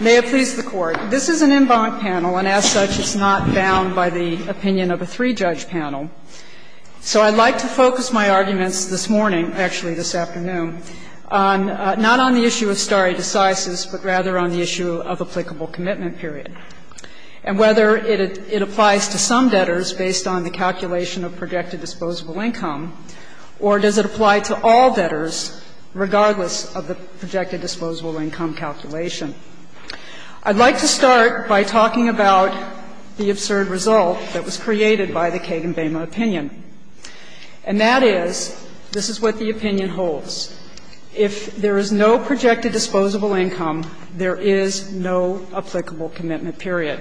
May it please the Court. This is an en banc panel, and as such, it's not bound by the opinion of a three-judge panel. So I'd like to focus my arguments this morning, actually this afternoon, not on the issue of stare decisis, but rather on the issue of applicable commitment period, and whether it applies to some debtors based on the calculation of projected disposable income, or does it apply to all debtors, regardless of the projected disposable income calculation. I'd like to start by talking about the absurd result that was created by the Kagan-Bama opinion, and that is, this is what the opinion holds. If there is no projected disposable income, there is no applicable commitment period.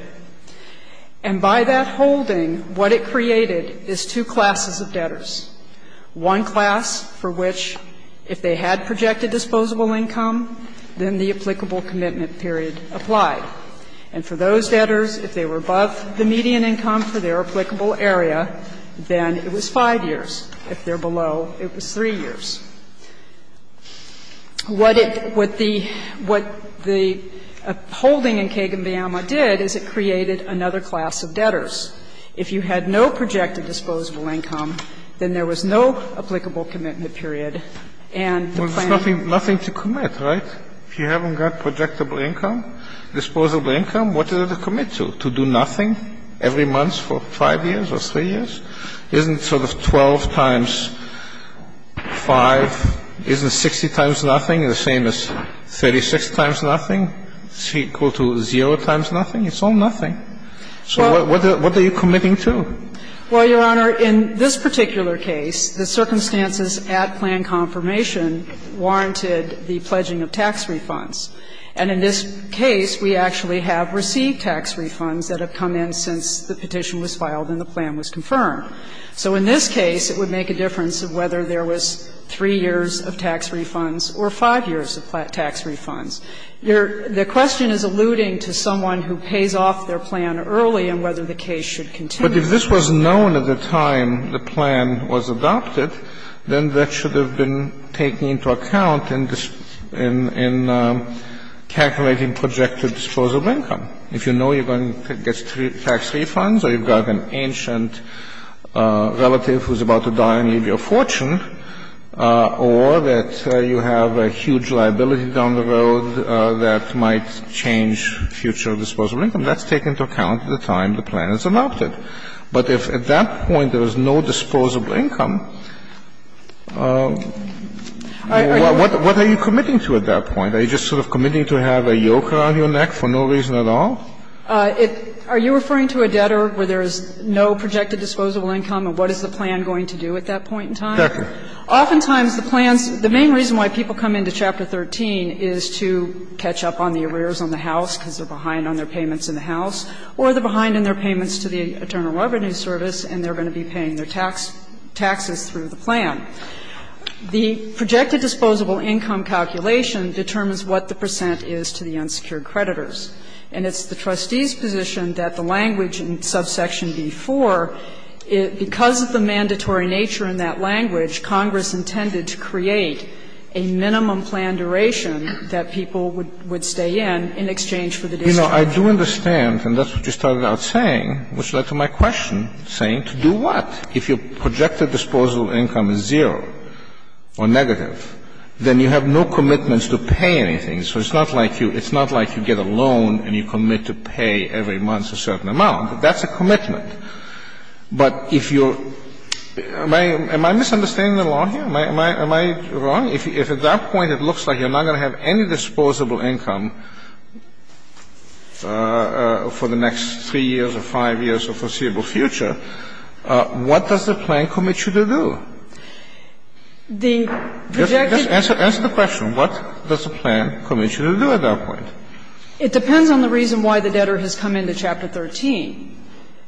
And by that holding, what it created is two classes of debtors, one class for which if they had projected disposable income, then the applicable commitment period applied. And for those debtors, if they were above the median income for their applicable area, then it was 5 years. If they're below, it was 3 years. What the holding in Kagan-Bama did is it created another class of debtors. If you had no projected disposable income, then there was no applicable commitment period, and the plan was to do nothing. Kagan-Bama Nothing to commit, right? If you haven't got projectable income, disposable income, what is it to commit to? To do nothing every month for 5 years or 3 years? Isn't sort of 12 times 5, isn't 60 times nothing the same as 36 times nothing? It's equal to 0 times nothing? It's all nothing. So what are you committing to? Well, Your Honor, in this particular case, the circumstances at plan confirmation warranted the pledging of tax refunds. And in this case, we actually have received tax refunds that have come in since the So in this case, it would make a difference of whether there was 3 years of tax refunds or 5 years of tax refunds. The question is alluding to someone who pays off their plan early and whether the case should continue. Kennedy But if this was known at the time the plan was adopted, then that should have been taken into account in calculating projected disposable income. If you know you're going to get tax refunds or you've got an ancient relative who's about to die and leave your fortune, or that you have a huge liability down the road that might change future disposable income, that's taken into account at the time the plan is adopted. But if at that point there was no disposable income, what are you committing to at that point? Are you just sort of committing to have a yoke around your neck for no reason at all? Kagan Are you referring to a debtor where there is no projected disposable income, and what is the plan going to do at that point in time? Kennedy Exactly. Kagan Oftentimes the plans the main reason why people come into Chapter 13 is to catch up on the arrears on the house because they're behind on their payments in the house, or they're behind on their payments to the Internal Revenue Service and they're going to be paying their tax, taxes through the plan. The projected disposable income calculation determines what the percent is to the unsecured creditors. And it's the trustee's position that the language in subsection B-4, because of the mandatory nature in that language, Congress intended to create a minimum plan duration that people would stay in in exchange for the disposable income. Kennedy You know, I do understand, and that's what you started out saying, which led to my question, saying to do what? If your projected disposable income is zero or negative, then you have no commitments to pay anything. So it's not like you get a loan and you commit to pay every month a certain amount. That's a commitment. But if you're – am I misunderstanding the law here? Am I wrong? If at that point it looks like you're not going to have any disposable income for the next 3 years or 5 years or foreseeable future, what does the plan commit you to do? Gershengorn The projected – Kennedy Just answer the question. What does the plan commit you to do at that point? Gershengorn It depends on the reason why the debtor has come into Chapter 13.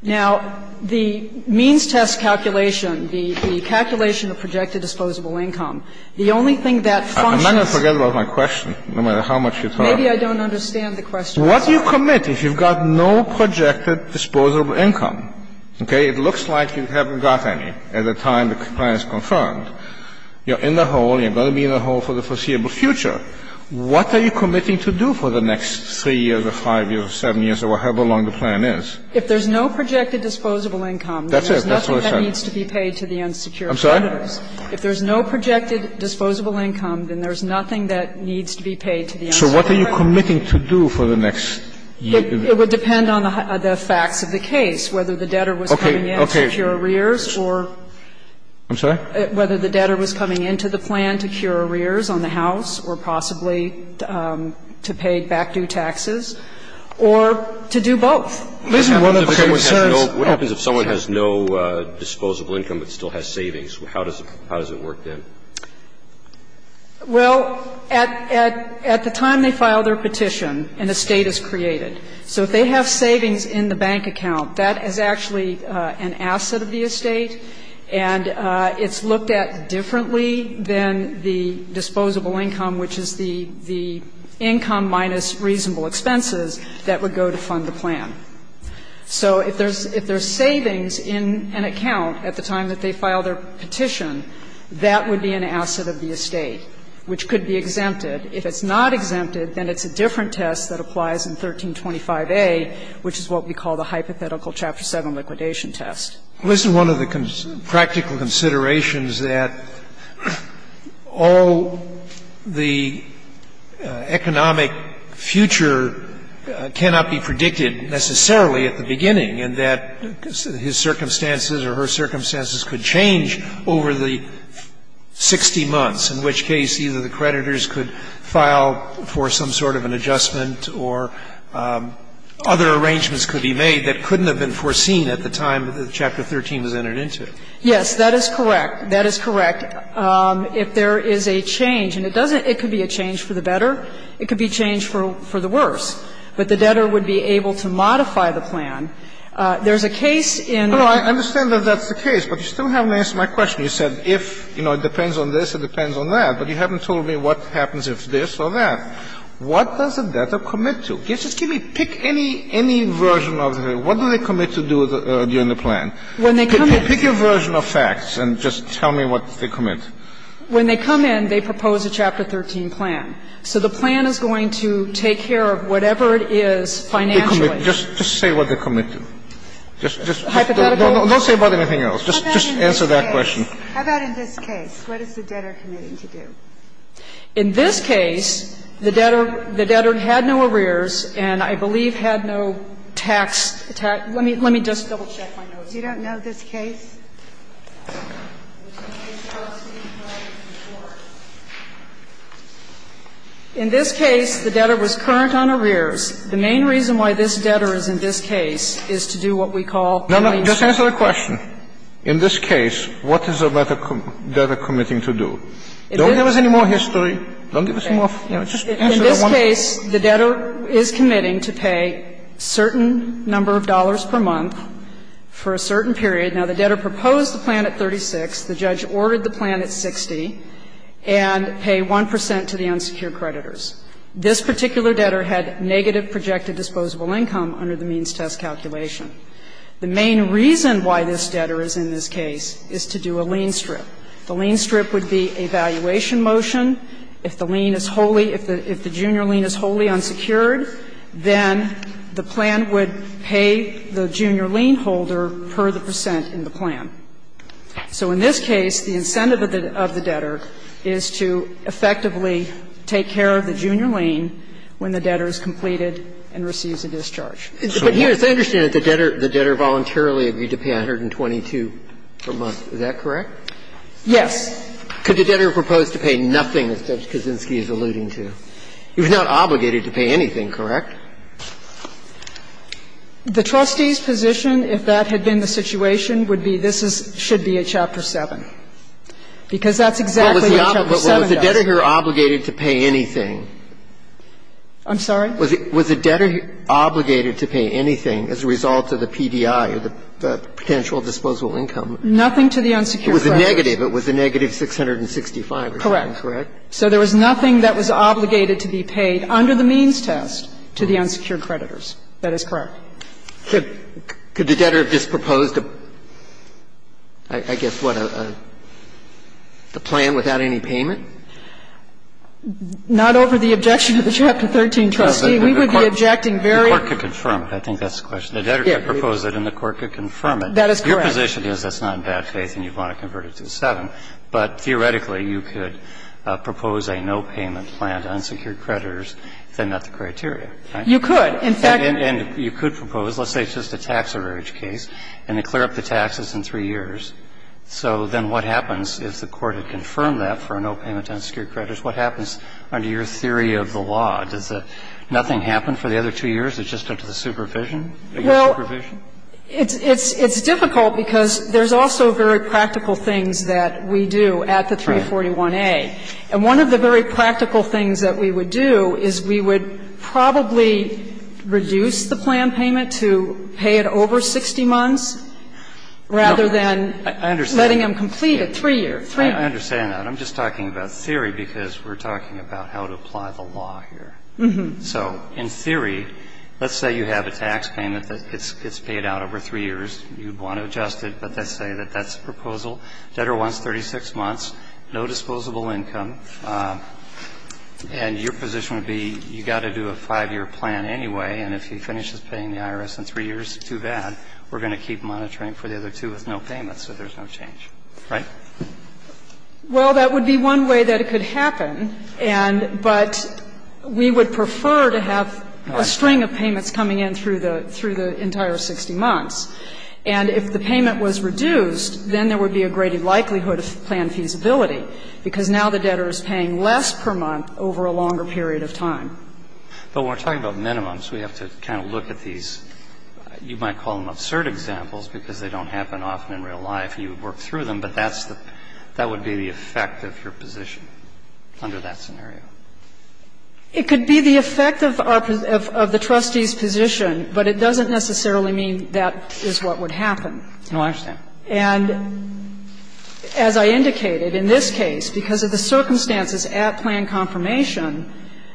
Now, the means test calculation, the calculation of projected disposable income, the only thing that functions – Kennedy I'm not going to forget about my question, no matter how much you talk. Gershengorn Maybe I don't understand the question. Kennedy What do you commit if you've got no projected disposable income? Okay? It looks like you haven't got any at the time the plan is confirmed. You're in the hole. You're going to be in the hole for the foreseeable future. What are you committing to do for the next 3 years or 5 years or 7 years or however long the plan is? Gershengorn If there's no projected disposable income, then there's nothing that needs to be paid to the unsecured debtors. Kennedy I'm sorry? Gershengorn If there's no projected disposable income, then there's nothing that needs to be paid to the unsecured debtors. Kennedy So what are you committing to do for the next year? Gershengorn It would depend on the facts of the case, whether the debtor was coming into the plan to cure arrears or whether the debtor was coming into the plan to cure arrears on the house or possibly to pay back due taxes or to do both. Kennedy What happens if someone has no disposable income but still has savings? How does it work then? Gershengorn Well, at the time they file their petition, an estate is created. So if they have savings in the bank account, that is actually an asset of the estate, and it's looked at differently than the disposable income, which is the income minus reasonable expenses that would go to fund the plan. So if there's savings in an account at the time that they file their petition, that would be an asset of the estate, which could be exempted. If it's not exempted, then it's a different test that applies in 1325a, which is what we call the hypothetical Chapter 7 liquidation test. Scalia Well, isn't one of the practical considerations that all the economic future cannot be predicted necessarily at the beginning and that his circumstances or her circumstances could change over the 60 months, in which case either the creditors could file for some sort of an adjustment or other arrangements could be made that couldn't have been foreseen at the time that Chapter 13 was entered into? Gershengorn Yes, that is correct. That is correct. If there is a change, and it doesn't – it could be a change for the better. It could be a change for the worse. But the debtor would be able to modify the plan. There's a case in the case. Kennedy I understand that that's the case, but you still haven't answered my question. You said if, you know, it depends on this, it depends on that. But you haven't told me what happens if this or that. What does a debtor commit to? Just give me – pick any version of it. What do they commit to do during the plan? Pick your version of facts and just tell me what they commit. Gershengorn When they come in, they propose a Chapter 13 plan. So the plan is going to take care of whatever it is financially. Kennedy Just say what they commit to. Don't say about anything else. Just answer that question. Kagan How about in this case? What is the debtor committing to do? Gershengorn In this case, the debtor – the debtor had no arrears and I believe had no tax – let me just double-check my notes. Kagan Do you not know this case? Gershengorn In this case, the debtor was current on arrears. The main reason why this debtor is in this case is to do what we call – Kennedy Just answer the question. In this case, what is the debtor committing to do? Don't give us any more history. Don't give us any more – just answer that one. Gershengorn In this case, the debtor is committing to pay certain number of dollars per month for a certain period. Now, the debtor proposed the plan at 36. The judge ordered the plan at 60 and pay 1 percent to the unsecured creditors. This particular debtor had negative projected disposable income under the means test calculation. The main reason why this debtor is in this case is to do a lien strip. The lien strip would be a valuation motion. If the lien is wholly – if the junior lien is wholly unsecured, then the plan would pay the junior lien holder per the percent in the plan. So in this case, the incentive of the debtor is to effectively take care of the junior lien when the debtor is completed and receives a discharge. But here, as I understand it, the debtor voluntarily agreed to pay 122 per month. Is that correct? Yes. Could the debtor propose to pay nothing, as Judge Kaczynski is alluding to? He was not obligated to pay anything, correct? The trustee's position, if that had been the situation, would be this is – should be a Chapter 7, because that's exactly what Chapter 7 does. But was the debtor obligated to pay anything? I'm sorry? Was the debtor obligated to pay anything as a result of the PDI, or the potential disposable income? Nothing to the unsecured creditors. It was a negative. It was a negative 665. Correct. Correct? So there was nothing that was obligated to be paid under the means test to the unsecured creditors. That is correct. Could the debtor have just proposed, I guess, what, a plan without any payment? Not over the objection of the Chapter 13 trustee. We would be objecting very – The court could confirm it. I think that's the question. The debtor could propose it and the court could confirm it. That is correct. Your position is that's not in bad faith and you want to convert it to a 7. But theoretically, you could propose a no-payment plan to unsecured creditors if they met the criteria, right? You could. In fact – And you could propose, let's say it's just a tax average case, and they clear up the taxes in three years. So then what happens if the court had confirmed that for a no-payment unsecured creditors? What happens under your theory of the law? Does nothing happen for the other two years? It's just under the supervision? Well, it's difficult because there's also very practical things that we do at the 341A. And one of the very practical things that we would do is we would probably reduce the plan payment to pay it over 60 months rather than letting them complete it three years. I understand that. I'm just talking about theory because we're talking about how to apply the law here. So in theory, let's say you have a tax payment that gets paid out over three years. You'd want to adjust it, but let's say that that's the proposal. Debtor wants 36 months, no disposable income. And your position would be you've got to do a five-year plan anyway. And if he finishes paying the IRS in three years, too bad. We're going to keep monitoring for the other two with no payments. So there's no change. Right? Well, that would be one way that it could happen. And but we would prefer to have a string of payments coming in through the entire 60 months. And if the payment was reduced, then there would be a greater likelihood of planned feasibility, because now the debtor is paying less per month over a longer period of time. But we're talking about minimums. We have to kind of look at these. You might call them absurd examples because they don't happen often in real life. You work through them, but that's the – that would be the effect of your position under that scenario. It could be the effect of our – of the trustee's position, but it doesn't necessarily mean that is what would happen. No, I understand. And as I indicated, in this case, because of the circumstances at plan confirmation,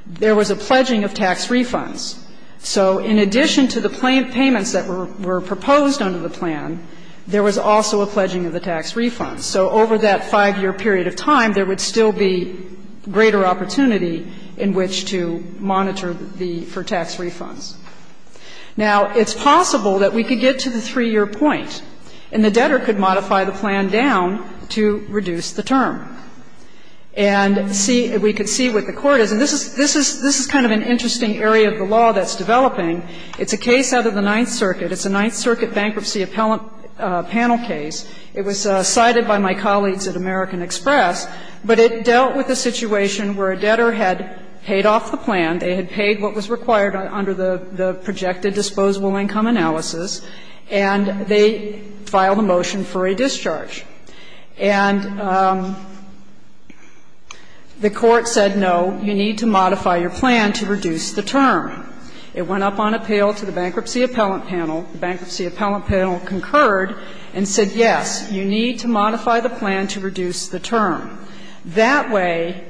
there was a pledging of tax refunds. So in addition to the payments that were proposed under the plan, there was also a pledging of the tax refunds. So over that 5-year period of time, there would still be greater opportunity in which to monitor the – for tax refunds. Now, it's possible that we could get to the 3-year point and the debtor could modify the plan down to reduce the term. And see – we could see what the court is. And this is – this is kind of an interesting area of the law that's developing. It's a case out of the Ninth Circuit. It's a Ninth Circuit bankruptcy appellant panel case. It was cited by my colleagues at American Express, but it dealt with a situation where a debtor had paid off the plan. They had paid what was required under the projected disposable income analysis, and they filed a motion for a discharge. And the court said, no, you need to modify your plan to reduce the term. It went up on appeal to the bankruptcy appellant panel. The bankruptcy appellant panel concurred and said, yes, you need to modify the plan to reduce the term. That way,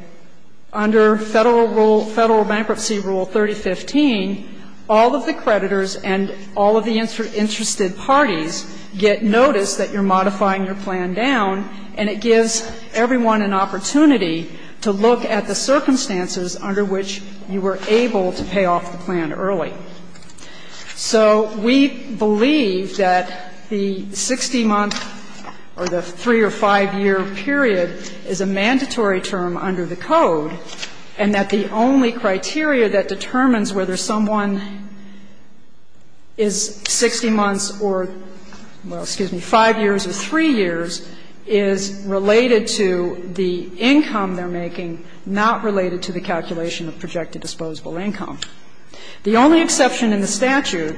under Federal Rule – Federal Bankruptcy Rule 3015, all of the creditors and all of the interested parties get notice that you're modifying your plan down, and it gives everyone an opportunity to look at the circumstances under which you were able to pay off the plan early. So we believe that the 60-month or the 3- or 5-year period is a mandatory term under the Code, and that the only criteria that determines whether someone is 60 months or – well, excuse me – 5 years or 3 years is related to the income they're making, not related to the calculation of projected disposable income. The only exception in the statute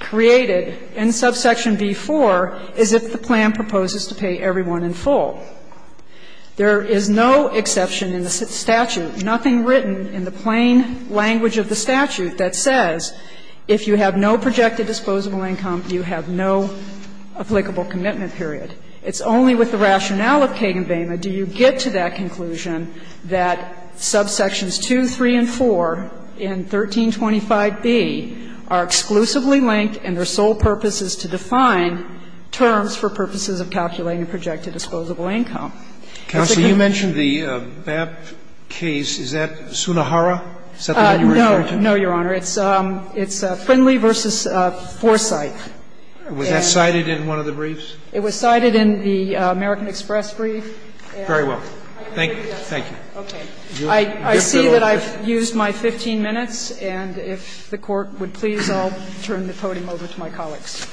created in subsection B-4 is if the plan proposes to pay everyone in full. There is no exception in the statute, nothing written in the plain language of the statute that says if you have no projected disposable income, you have no applicable commitment period. It's only with the rationale of Kagan-Vema do you get to that conclusion that subsections 2, 3, and 4 in 1325b are exclusively linked and their sole purpose is to define terms for purposes of calculating projected disposable income. Sotomayor, you mentioned the BAP case. Is that Sunnahara? Is that the one you were referring to? No, no, Your Honor. It's Friendly v. Foresight. Was that cited in one of the briefs? It was cited in the American Express brief. Very well. Thank you. Thank you. Okay. I see that I've used my 15 minutes, and if the Court would please, I'll turn the podium over to my colleagues.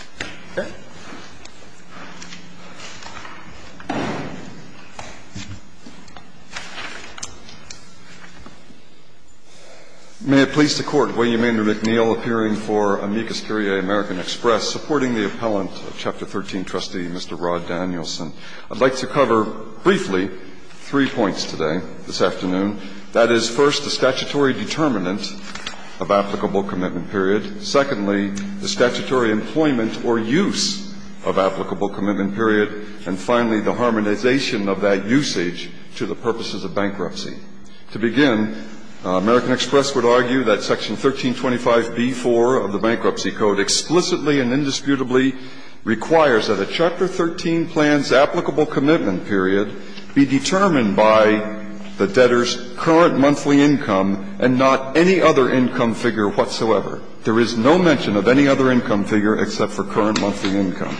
May it please the Court. William Andrew McNeill, appearing for Amicus Curiae, American Express, supporting the appellant of Chapter 13 trustee, Mr. Rod Danielson. I'd like to cover briefly three points today, this afternoon. That is, first, the statutory determinant of applicable commitment period. Secondly, the statutory employment or use of applicable commitment period. And finally, the harmonization of that usage to the purposes of bankruptcy. To begin, American Express would argue that Section 1325b-4 of the Bankruptcy Code explicitly and indisputably requires that a Chapter 13 plan's applicable commitment period be determined by the debtor's current monthly income and not any other income figure whatsoever. There is no mention of any other income figure except for current monthly income.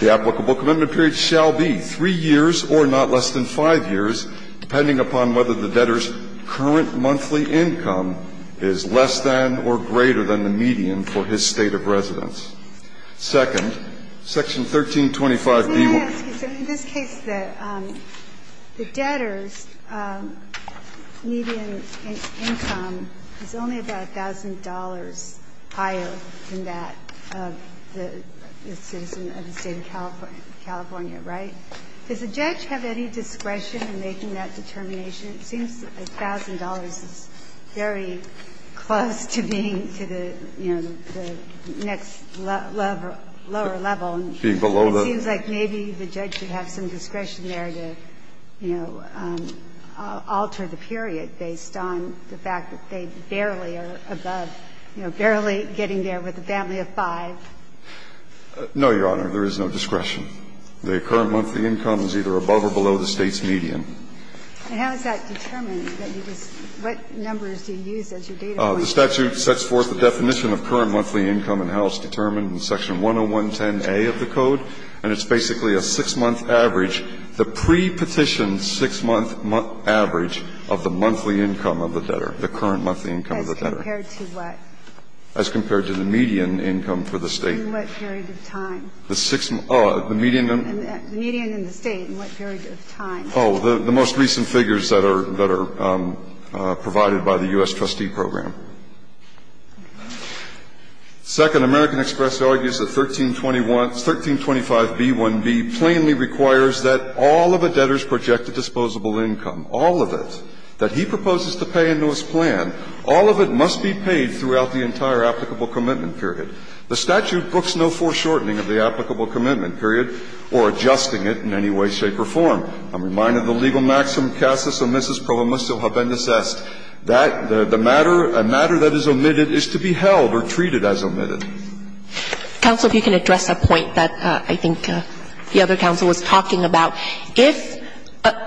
The applicable commitment period shall be 3 years or not less than 5 years, depending upon whether the debtor's current monthly income is less than or greater than the median for his state of residence. Second, Section 1325b-4. In this case, the debtor's median income is only about $1,000 higher than that of the citizen of the State of California, right? Does the judge have any discretion in making that determination? It seems that $1,000 is very close to being to the, you know, the next lower level. It seems like maybe the judge should have some discretion there to, you know, alter the period based on the fact that they barely are above, you know, barely getting there with a family of five. No, Your Honor. There is no discretion. The current monthly income is either above or below the State's median. And how is that determined? What numbers do you use as your data point? The statute sets forth the definition of current monthly income and how it's determined in Section 10110a of the Code. And it's basically a 6-month average, the pre-petition 6-month average of the monthly income of the debtor, the current monthly income of the debtor. As compared to what? As compared to the median income for the State. In what period of time? The 6 the median income. The median in the State in what period of time? Oh, the most recent figures that are provided by the U.S. trustee program. Second, American Express argues that 1321 1325b1b plainly requires that all of a debtor's projected disposable income, all of it, that he proposes to pay into his plan, all of it must be paid throughout the entire applicable commitment period. The statute books no foreshortening of the applicable commitment period or adjusting it in any way, shape or form. I'm reminded of the legal maxim, casus omnis proviso habendus est. That the matter, a matter that is omitted is to be held or treated as omitted. Counsel, if you can address a point that I think the other counsel was talking about. If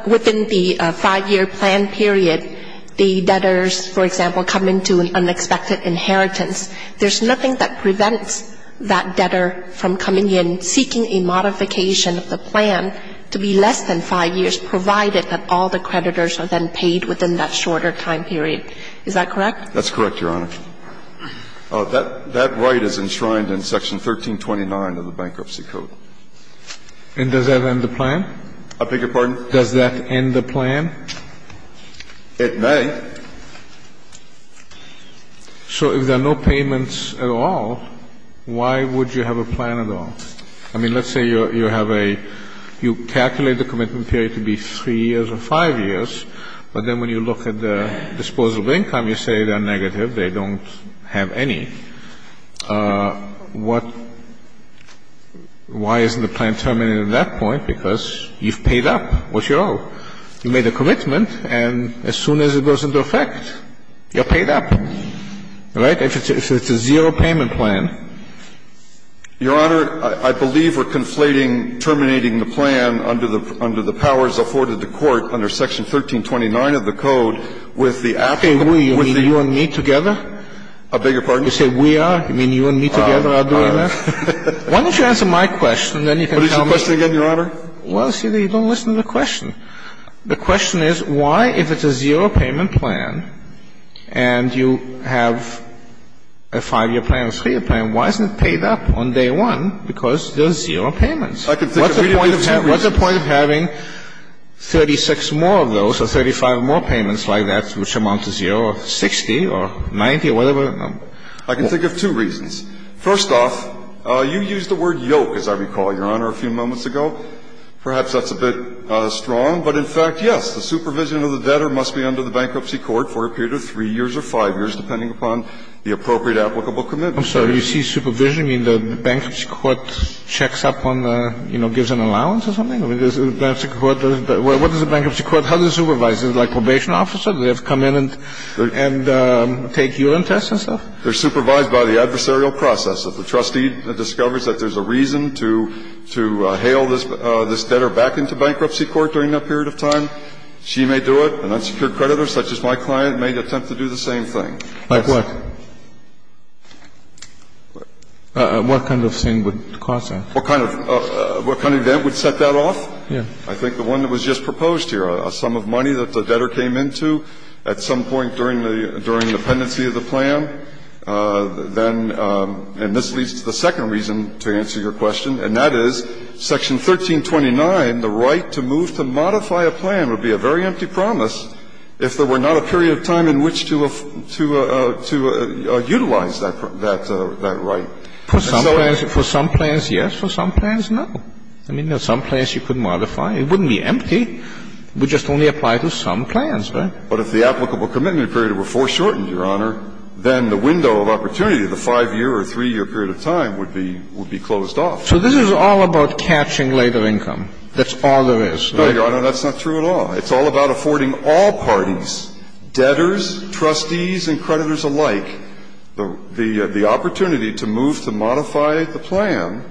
within the 5-year plan period, the debtors, for example, come into an unexpected inheritance, there's nothing that prevents that debtor from coming in seeking a modification of the plan to be less than 5 years, provided that all the creditors are then paid within that shorter time period. Is that correct? That's correct, Your Honor. That right is enshrined in section 1329 of the Bankruptcy Code. And does that end the plan? I beg your pardon? Does that end the plan? It may. So if there are no payments at all, why would you have a plan at all? I mean, let's say you have a you calculate the commitment period to be 3 years or 5 years, but then when you look at the disposal of income, you say they're negative, they don't have any. What why isn't the plan terminated at that point? Because you've paid up. What's your owe? You made a commitment, and as soon as it goes into effect, you're paid up. Right? If it's a zero-payment plan. Your Honor, I believe we're conflating terminating the plan under the powers afforded to the court under section 1329 of the Code with the applicable. Okay. You mean you and me together? I beg your pardon? You say we are? You mean you and me together are doing that? Why don't you answer my question, and then you can tell me? What is your question again, Your Honor? Well, see, you don't listen to the question. The question is why, if it's a zero-payment plan, and you have a 5-year plan and a 3-year plan, why isn't it paid up on day one because there's zero payments? I can think of two reasons. What's the point of having 36 more of those or 35 more payments like that, which amount to zero, or 60 or 90 or whatever? I can think of two reasons. First off, you used the word yoke, as I recall, Your Honor, a few moments ago. Perhaps that's a bit strong. But in fact, yes, the supervision of the debtor must be under the bankruptcy court for a period of 3 years or 5 years, depending upon the appropriate applicable commitment. I'm sorry. When you say supervision, you mean the bankruptcy court checks up on the, you know, gives an allowance or something? I mean, there's a bankruptcy court. What is a bankruptcy court? How do they supervise? Is it like probation officer? Do they have to come in and take urine tests and stuff? They're supervised by the adversarial process. If the trustee discovers that there's a reason to hail this debtor back into bankruptcy court during that period of time, she may do it. An unsecured creditor, such as my client, may attempt to do the same thing. Like what? What kind of thing would cause that? What kind of debt would set that off? Yes. I think the one that was just proposed here, a sum of money that the debtor came into at some point during the pendency of the plan, then, and this leads to the second reason to answer your question, and that is Section 1329, the right to move to modify a plan would be a very empty promise if there were not a period of time in which to utilize that right. For some plans, yes. For some plans, no. I mean, there are some plans you could modify. It wouldn't be empty. It would just only apply to some plans, right? But if the applicable commitment period were foreshortened, Your Honor, then the window of opportunity, the 5-year or 3-year period of time, would be closed off. So this is all about catching later income. That's all there is. No, Your Honor, that's not true at all. It's all about affording all parties, debtors, trustees, and creditors alike, the opportunity to move to modify the plan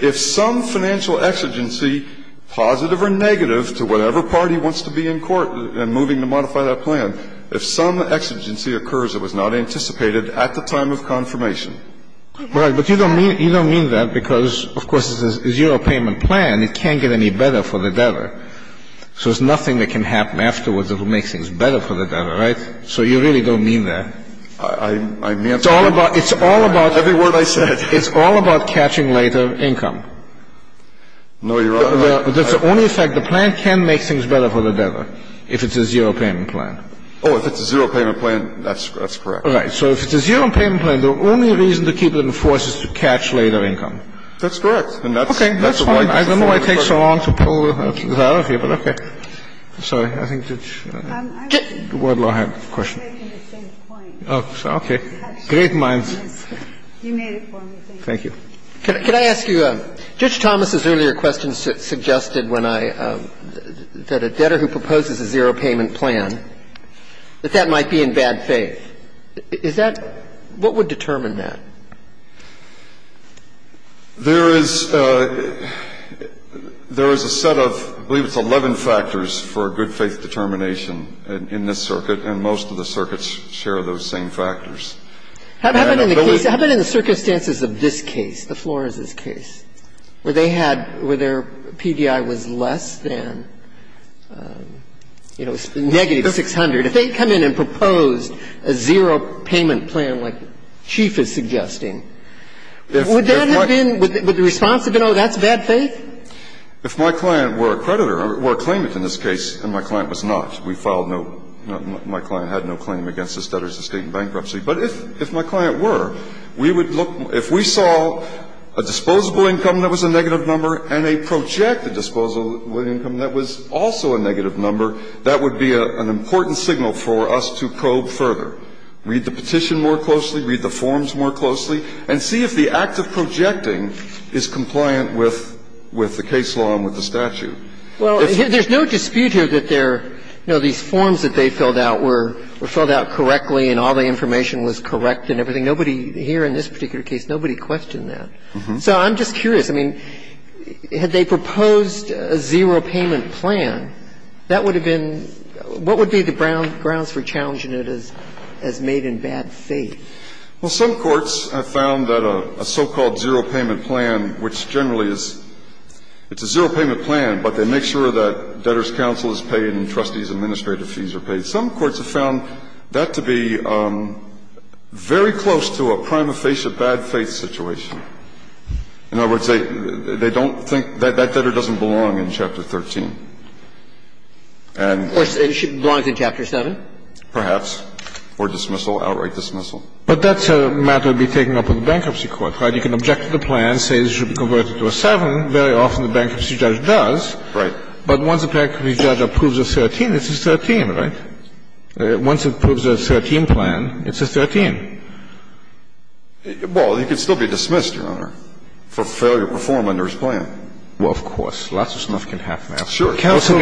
if some financial exigency, positive or negative to whatever party wants to be in court and moving to modify that plan, if some exigency occurs that was not anticipated at the time of confirmation. Right. But you don't mean that because, of course, it's a zero-payment plan. It can't get any better for the debtor. So there's nothing that can happen afterwards that will make things better for the debtor, right? So you really don't mean that. I'm answering every word I said. It's all about catching later income. No, Your Honor. That's the only effect. The plan can make things better for the debtor if it's a zero-payment plan. Oh, if it's a zero-payment plan, that's correct. Right. So if it's a zero-payment plan, the only reason to keep it in force is to catch later income. That's correct. And that's the point. I don't know why it takes so long to pull that out of you, but okay. Sorry. I think Judge Wadlow had a question. Okay. Great minds. Thank you. Can I ask you, Judge Thomas's earlier question suggested when I – that a debtor who proposes a zero-payment plan, that that might be in bad faith. Is that – what would determine that? There is – there is a set of – I believe it's 11 factors for a good-faith determination in this circuit, and most of the circuits share those same factors. How about in the case – how about in the circumstances of this case, the Flores's case, where they had – where their PDI was less than, you know, negative 600. If they had come in and proposed a zero-payment plan like Chief is suggesting, would that have been – would the response have been, oh, that's bad faith? If my client were a creditor, or a claimant in this case, and my client was not. We filed no – my client had no claim against this debtor's estate in bankruptcy. But if – if my client were, we would look – if we saw a disposable income that was a negative number and a projected disposable income that was also a negative number, that would be an important signal for us to probe further. Read the petition more closely. Read the forms more closely. And see if the act of projecting is compliant with – with the case law and with the statute. Well, there's no dispute here that there – you know, these forms that they filled out were filled out correctly, and all the information was correct and everything. Nobody here in this particular case, nobody questioned that. So I'm just curious. I mean, had they proposed a zero-payment plan, that would have been – what would be the grounds for challenging it as made in bad faith? Well, some courts have found that a so-called zero-payment plan, which generally is – it's a zero-payment plan, but they make sure that debtor's counsel is paid and trustee's administrative fees are paid. Some courts have found that to be very close to a prima facie bad faith situation. In other words, they don't think that that debtor doesn't belong in Chapter 13. And – Or should – belongs in Chapter 7? Perhaps. Or dismissal, outright dismissal. But that's a matter to be taken up with the bankruptcy court, right? You can object to the plan, say it should be converted to a 7. Very often the bankruptcy judge does. Right. But once a bankruptcy judge approves a 13, it's a 13, right? Once it approves a 13 plan, it's a 13. Well, he could still be dismissed, Your Honor, for failure to perform under his plan. Well, of course. Lots of stuff can happen afterwards. Sure. Counsel,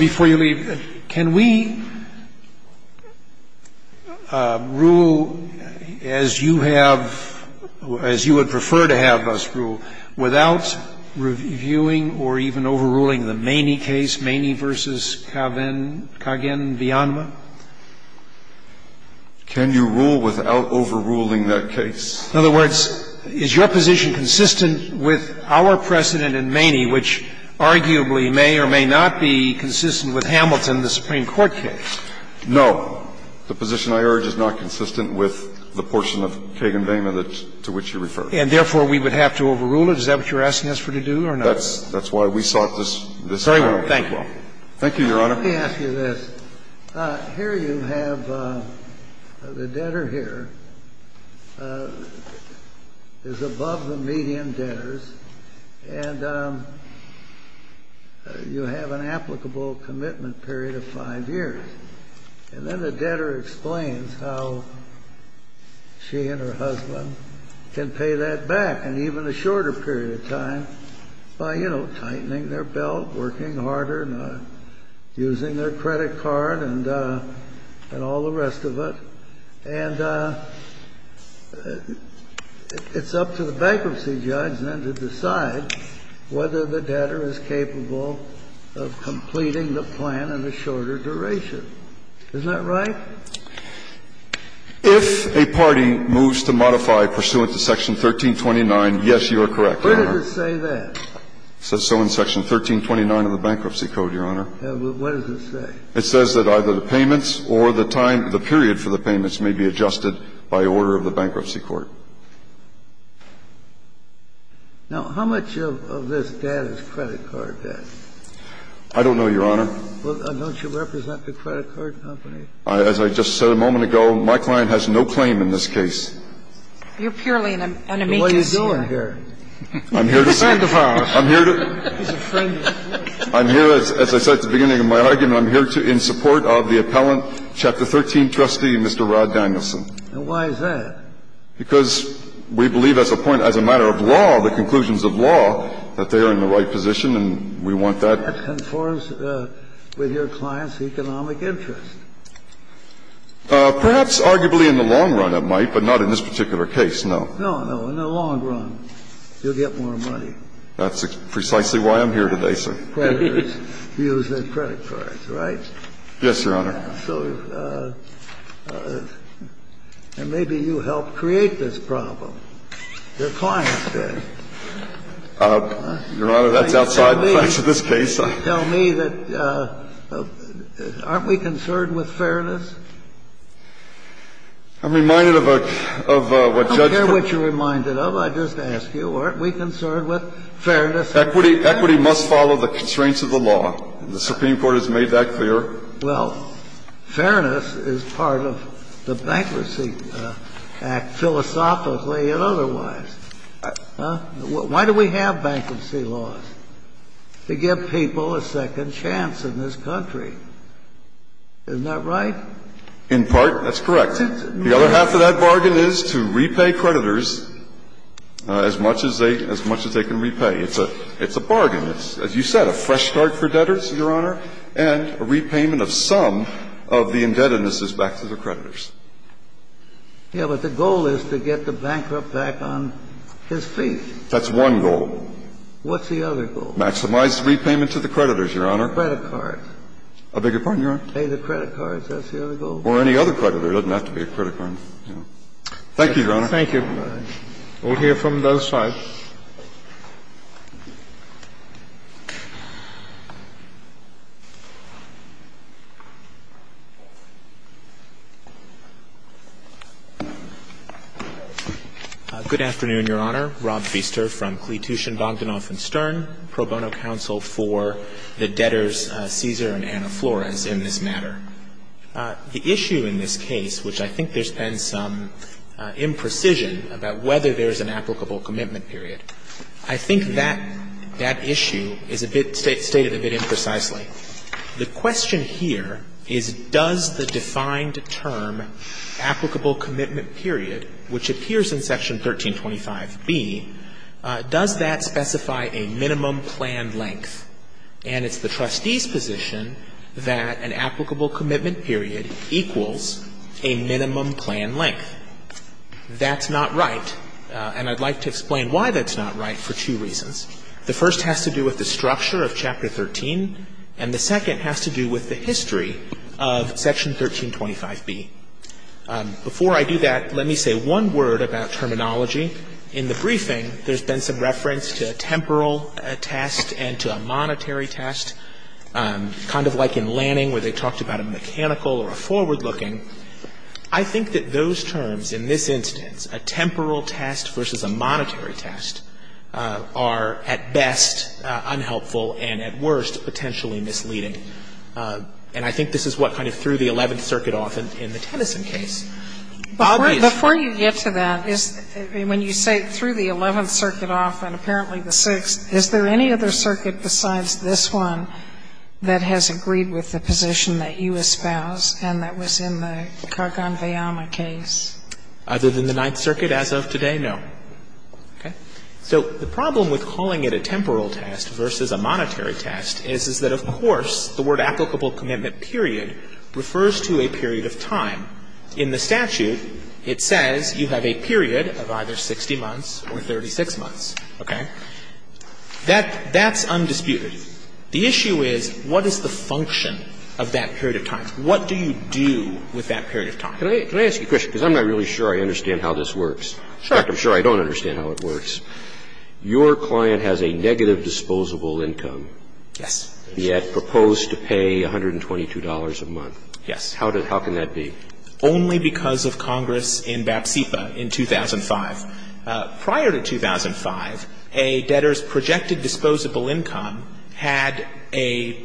before you leave, can we rule as you have – as you would prefer to have us rule without reviewing or even overruling the Maney case, Maney v. Kagan-Villanueva? Can you rule without overruling that case? In other words, is your position consistent with our precedent in Maney, which arguably may or may not be consistent with Hamilton, the Supreme Court case? No. The position I urge is not consistent with the portion of Kagan-Villanueva to which you refer. And therefore, we would have to overrule it? Is that what you're asking us to do or not? That's why we sought this out. Very well. Thank you, Your Honor. Let me ask you this. Here you have – the debtor here is above the median debtors, and you have an applicable commitment period of five years. And then the debtor explains how she and her husband can pay that back in even a week, losing their credit card and all the rest of it. And it's up to the bankruptcy judge then to decide whether the debtor is capable of completing the plan in a shorter duration. Isn't that right? If a party moves to modify pursuant to Section 1329, yes, you are correct, Your Honor. Where does it say that? It says so in Section 1329 of the Bankruptcy Code, Your Honor. What does it say? It says that either the payments or the period for the payments may be adjusted by order of the Bankruptcy Court. Now, how much of this debt is credit card debt? I don't know, Your Honor. Well, don't you represent the credit card company? As I just said a moment ago, my client has no claim in this case. You're purely an amicus. What are you doing here? I'm here to say – He's a friend of ours. I'm here to – He's a friend of yours. I'm here, as I said at the beginning of my argument, I'm here in support of the appellant, Chapter 13, Trustee Mr. Rod Danielson. And why is that? Because we believe as a point, as a matter of law, the conclusions of law, that they are in the right position, and we want that – That conforms with your client's economic interest. Perhaps arguably in the long run it might, but not in this particular case, no. No, no. In the long run, you'll get more money. That's precisely why I'm here today, sir. The creditors use their credit cards, right? Yes, Your Honor. So – and maybe you helped create this problem. Your client did. Your Honor, that's outside the context of this case. Tell me that – aren't we concerned with fairness? I'm reminded of what Judge – I don't care what you're reminded of. I just ask you, aren't we concerned with fairness? Equity must follow the constraints of the law. The Supreme Court has made that clear. Well, fairness is part of the Bankruptcy Act philosophically and otherwise. Why do we have bankruptcy laws? To give people a second chance in this country. Isn't that right? In part, that's correct. The other half of that bargain is to repay creditors as much as they can repay. It's a – it's a bargain. It's, as you said, a fresh start for debtors, Your Honor, and a repayment of some of the indebtednesses back to the creditors. Yeah, but the goal is to get the bankrupt back on his feet. That's one goal. What's the other goal? Maximize repayment to the creditors, Your Honor. Credit cards. I beg your pardon, Your Honor? Pay the credit cards. That's the other goal. Or any other creditor. It doesn't have to be a credit card. Thank you, Your Honor. Thank you. We'll hear from the other side. Good afternoon, Your Honor. Rob Feaster from Kletushin, Bogdanoff & Stern, Pro Bono Counsel for the debtors, Cesar and Anna Flores, in this matter. The issue in this case, which I think there's been some imprecision about whether there's an applicable commitment period, I think that issue is a bit – stated a bit imprecisely. The question here is does the defined term, applicable commitment period, which appears in Section 1325B, does that specify a minimum planned length? And it's the trustee's position that an applicable commitment period equals a minimum planned length. That's not right. And I'd like to explain why that's not right for two reasons. The first has to do with the structure of Chapter 13 and the second has to do with the history of Section 1325B. Before I do that, let me say one word about terminology. In the briefing, there's been some reference to a temporal test and to a monetary test, kind of like in Lanning where they talked about a mechanical or a forward-looking. I think that those terms in this instance, a temporal test versus a monetary test, are at best unhelpful and at worst potentially misleading. And I think this is what kind of threw the Eleventh Circuit off in the Tennyson case. Before you get to that, when you say threw the Eleventh Circuit off and apparently the Sixth, is there any other circuit besides this one that has agreed with the position that you espouse and that was in the Kargan-Veyama case? Other than the Ninth Circuit as of today, no. So the problem with calling it a temporal test versus a monetary test is that of course the word applicable commitment period refers to a period of time. In the statute, it says you have a period of either 60 months or 36 months. Okay? That's undisputed. The issue is what is the function of that period of time? What do you do with that period of time? Can I ask you a question? Because I'm not really sure I understand how this works. In fact, I'm sure I don't understand how it works. Your client has a negative disposable income. Yes. Yet proposed to pay $122 a month. Yes. How can that be? Only because of Congress in BAPSIPA in 2005. Prior to 2005, a debtor's projected disposable income had a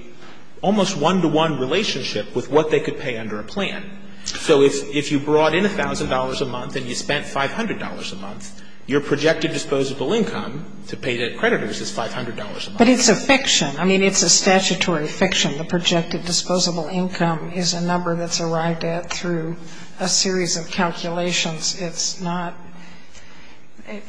almost one-to-one relationship with what they could pay under a plan. So if you brought in $1,000 a month and you spent $500 a month, your projected disposable income to pay debt creditors is $500 a month. But it's a fiction. I mean, it's a statutory fiction. The projected disposable income is a number that's arrived at through a series of calculations. It's not –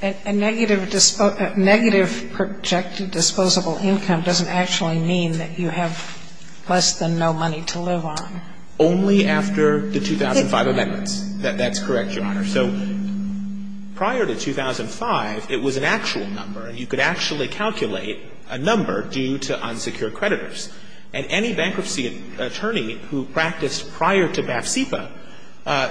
a negative projected disposable income doesn't actually mean that you have less than no money to live on. Only after the 2005 amendments. That's correct, Your Honor. So prior to 2005, it was an actual number. You could actually calculate a number due to unsecured creditors. And any bankruptcy attorney who practiced prior to BAPSIPA,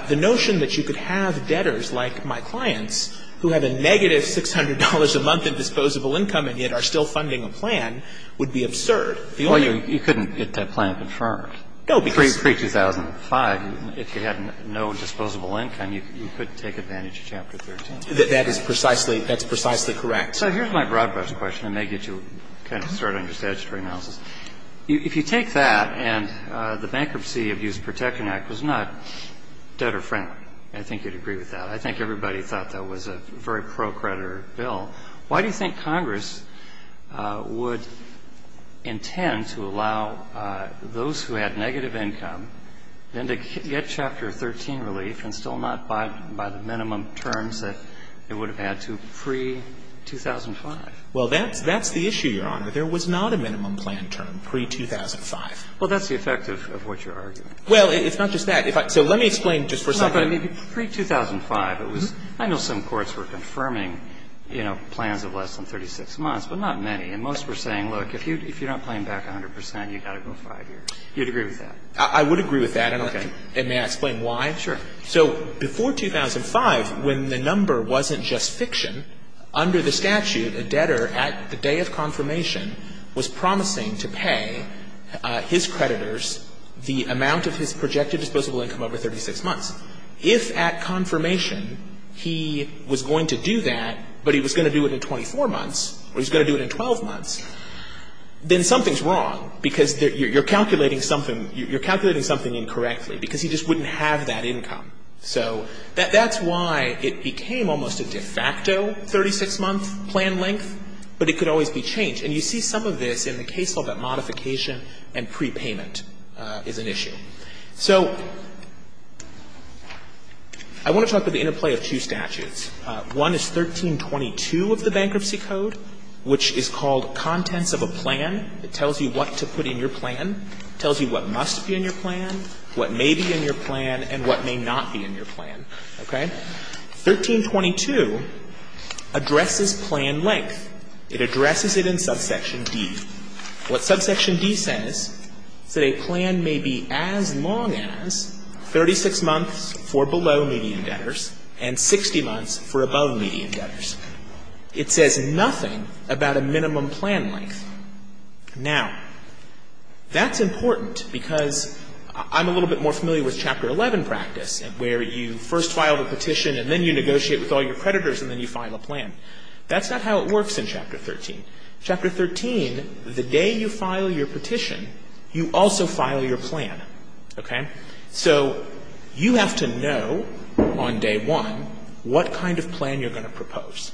the notion that you could have debtors like my clients who had a negative $600 a month in disposable income and yet are still funding a plan would be absurd. Well, you couldn't get that plan confirmed. No, because – Pre-2005, if you had no disposable income, you could take advantage of Chapter 13. That is precisely – that's precisely correct. So here's my broad-brush question. I may get you to kind of start on your statutory analysis. If you take that and the Bankruptcy Abuse Protection Act was not debtor-friendly – I think you'd agree with that. I think everybody thought that was a very pro-creditor bill. Why do you think Congress would intend to allow those who had negative income then to get Chapter 13 relief and still not buy the minimum terms that they would have had to pre-2005? Well, that's the issue, Your Honor. There was not a minimum plan term pre-2005. Well, that's the effect of what you're arguing. Well, it's not just that. If I – so let me explain just for a second. No, but I mean, pre-2005, it was – I know some courts were confirming, you know, plans of less than 36 months, but not many. And most were saying, look, if you're not paying back 100 percent, you've got to go 5 years. You'd agree with that? I would agree with that. And may I explain why? Sure. So before 2005, when the number wasn't just fiction, under the statute, a debtor, at the day of confirmation, was promising to pay his creditors the amount of his projected disposable income over 36 months. If at confirmation he was going to do that, but he was going to do it in 24 months or he was going to do it in 12 months, then something's wrong because you're calculating something – you're calculating something incorrectly because he just wouldn't have that income. So that's why it became almost a de facto 36-month plan length, but it could always be changed. And you see some of this in the case law that modification and prepayment is an issue. So I want to talk about the interplay of two statutes. One is 1322 of the Bankruptcy Code, which is called contents of a plan. It tells you what to put in your plan. It tells you what must be in your plan, what may be in your plan, and what may not be in your plan. 1322 addresses plan length. It addresses it in subsection D. What subsection D says is that a plan may be as long as 36 months for below-median debtors and 60 months for above-median debtors. It says nothing about a minimum plan length. Now, that's important because I'm a little bit more familiar with Chapter 11 practice, where you first file the petition and then you negotiate with all your creditors and then you file a plan. That's not how it works in Chapter 13. Chapter 13, the day you file your petition, you also file your plan. So you have to know on day one what kind of plan you're going to propose.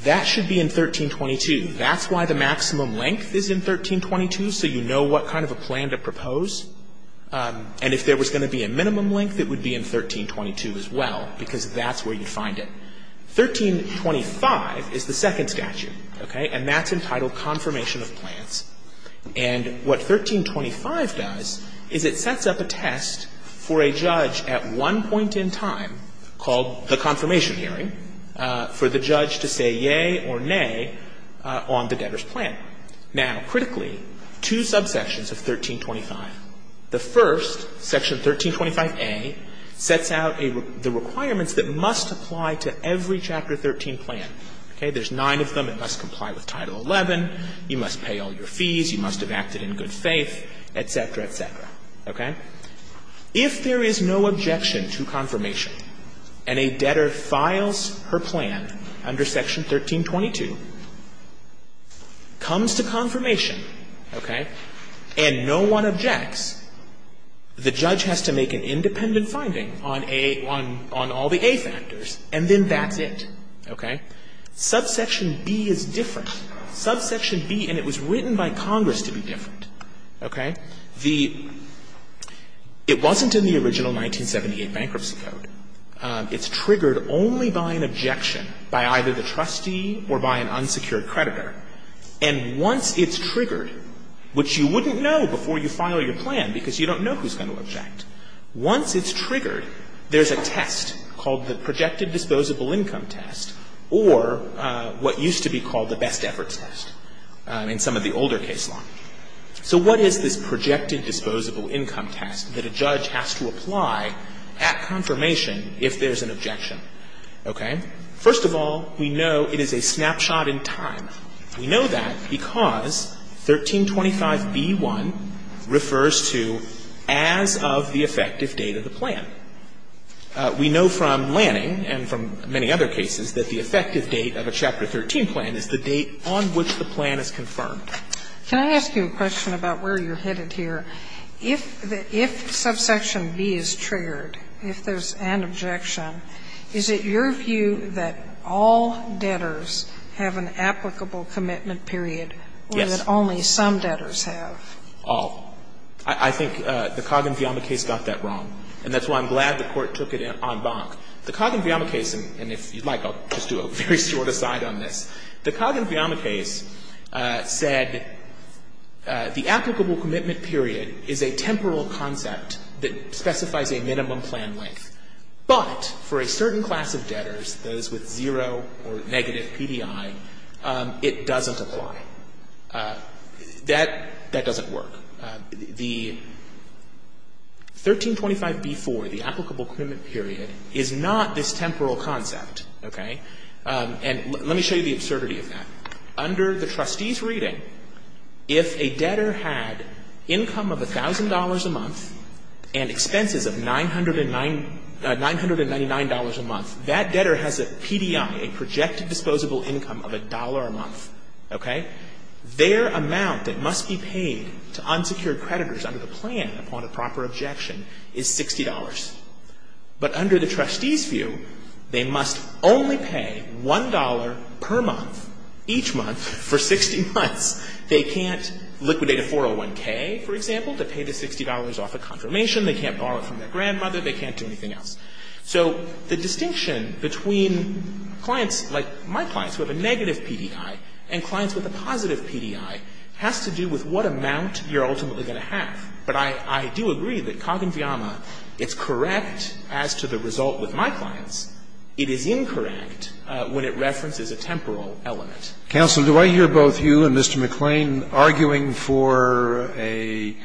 That should be in 1322. That's why the maximum length is in 1322, so you know what kind of a plan to propose. And if there was going to be a minimum length, it would be in 1322 as well, because that's where you'd find it. 1325 is the second statute, okay? And that's entitled confirmation of plans. And what 1325 does is it sets up a test for a judge at one point in time called the confirmation hearing for the judge to say yea or nay on the debtor's plan. Now, critically, two subsections of 1325. The first, Section 1325a, sets out the requirements that must apply to every Chapter 13 plan. There's nine of them. It must comply with Title 11. You must pay all your fees. You must have acted in good faith, et cetera, et cetera, okay? If there is no objection to confirmation and a debtor files her plan under Section 1322, comes to confirmation, okay, and no one objects, the judge has to make an independent finding on all the A-Factors, and then that's it, okay? Subsection B is different. Subsection B, and it was written by Congress to be different, okay? It wasn't in the original 1978 Bankruptcy Code. It's triggered only by an objection by either the trustee or by an unsecured creditor. And once it's triggered, which you wouldn't know before you file your plan because you don't know who's going to object. Once it's triggered, there's a test called the Projected Disposable Income Test or what used to be called the Best Efforts Test in some of the older case law. So what is this Projected Disposable Income Test that a judge has to apply at confirmation if there's an objection, okay? First of all, we know it is a snapshot in time. We know that because 1325B1 refers to as of the effective date of the plan. We know from Lanning and from many other cases that the effective date of a Chapter 13 plan is the date on which the plan is confirmed. Can I ask you a question about where you're headed here? If Subsection B is triggered, if there's an objection, is it your view that all debtors have an applicable commitment period? Yes. Or that only some debtors have? All. I think the Coggin-Villama case got that wrong. And that's why I'm glad the Court took it en banc. The Coggin-Villama case, and if you'd like, I'll just do a very short aside on this. The Coggin-Villama case said the applicable commitment period is a temporal concept that specifies a minimum plan length. But for a certain class of debtors, those with zero or negative PDI, it doesn't apply. That doesn't work. The 1325B4, the applicable commitment period, is not this temporal concept, okay? And let me show you the absurdity of that. Under the trustee's reading, if a debtor had income of $1,000 a month and expenses of $999 a month, that debtor has a PDI, a projected disposable income of $1 a month. Their amount that must be paid to unsecured creditors under the plan upon a proper objection is $60. But under the trustee's view, they must only pay $1 per month, each month, for 60 months. They can't liquidate a 401K, for example, to pay the $60 off a confirmation. They can't borrow it from their grandmother. They can't do anything else. So the distinction between clients, like my clients, who have a negative PDI and clients with a positive PDI has to do with what amount you're ultimately going to have. But I do agree that Coggen-Fiamma, it's correct as to the result with my clients. It is incorrect when it references a temporal element. Counsel, do I hear both you and Mr. McClain arguing for an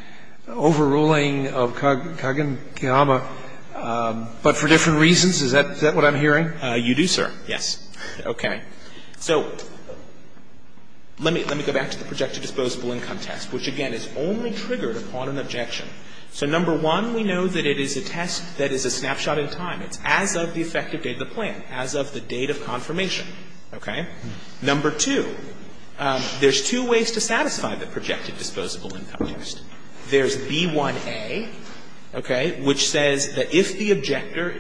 overruling of Coggen-Fiamma, but for different reasons? Is that what I'm hearing? You do, sir, yes. Okay. So let me go back to the projected disposable income test, which, again, is only triggered upon an objection. So number one, we know that it is a test that is a snapshot in time. It's as of the effective date of the plan, as of the date of confirmation. Okay? Number two, there's two ways to satisfy the projected disposable income test. There's B1A, which says that if the objector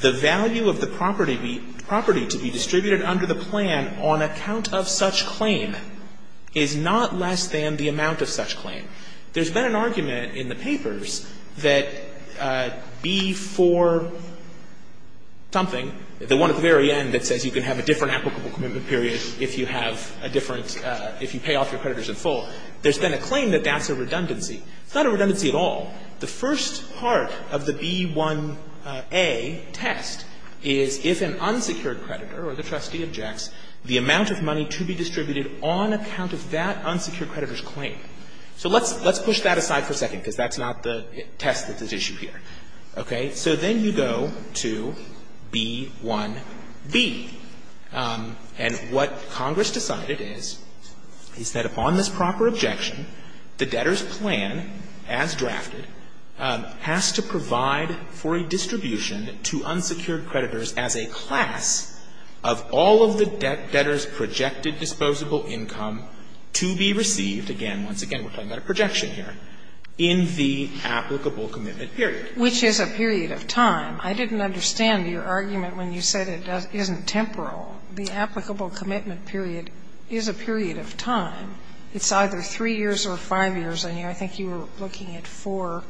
the value of the property to be distributed under the plan on account of such claim is not less than the amount of such claim. There's been an argument in the papers that B4 something, the one at the very end that says you can have a different applicable commitment period if you have a different, if you pay off your creditors in full, there's been a claim that that's a redundancy. It's not a redundancy at all. The first part of the B1A test is if an unsecured creditor or the trustee objects the amount of money to be distributed on account of that unsecured creditor's claim. So let's push that aside for a second because that's not the test that's at issue here. Okay? So then you go to B1B. And what Congress decided is is that upon this proper objection the debtor's plan, as drafted, has to provide for a distribution to unsecured creditors as a class of all of the debtor's projected disposable income to be received, again, once again we're talking about a projection here, in the applicable commitment period. Which is a period of time. I didn't understand your argument when you said it isn't temporal. The applicable commitment period is a period of time. It's either 3 years or 5 years. I think you were looking at 4B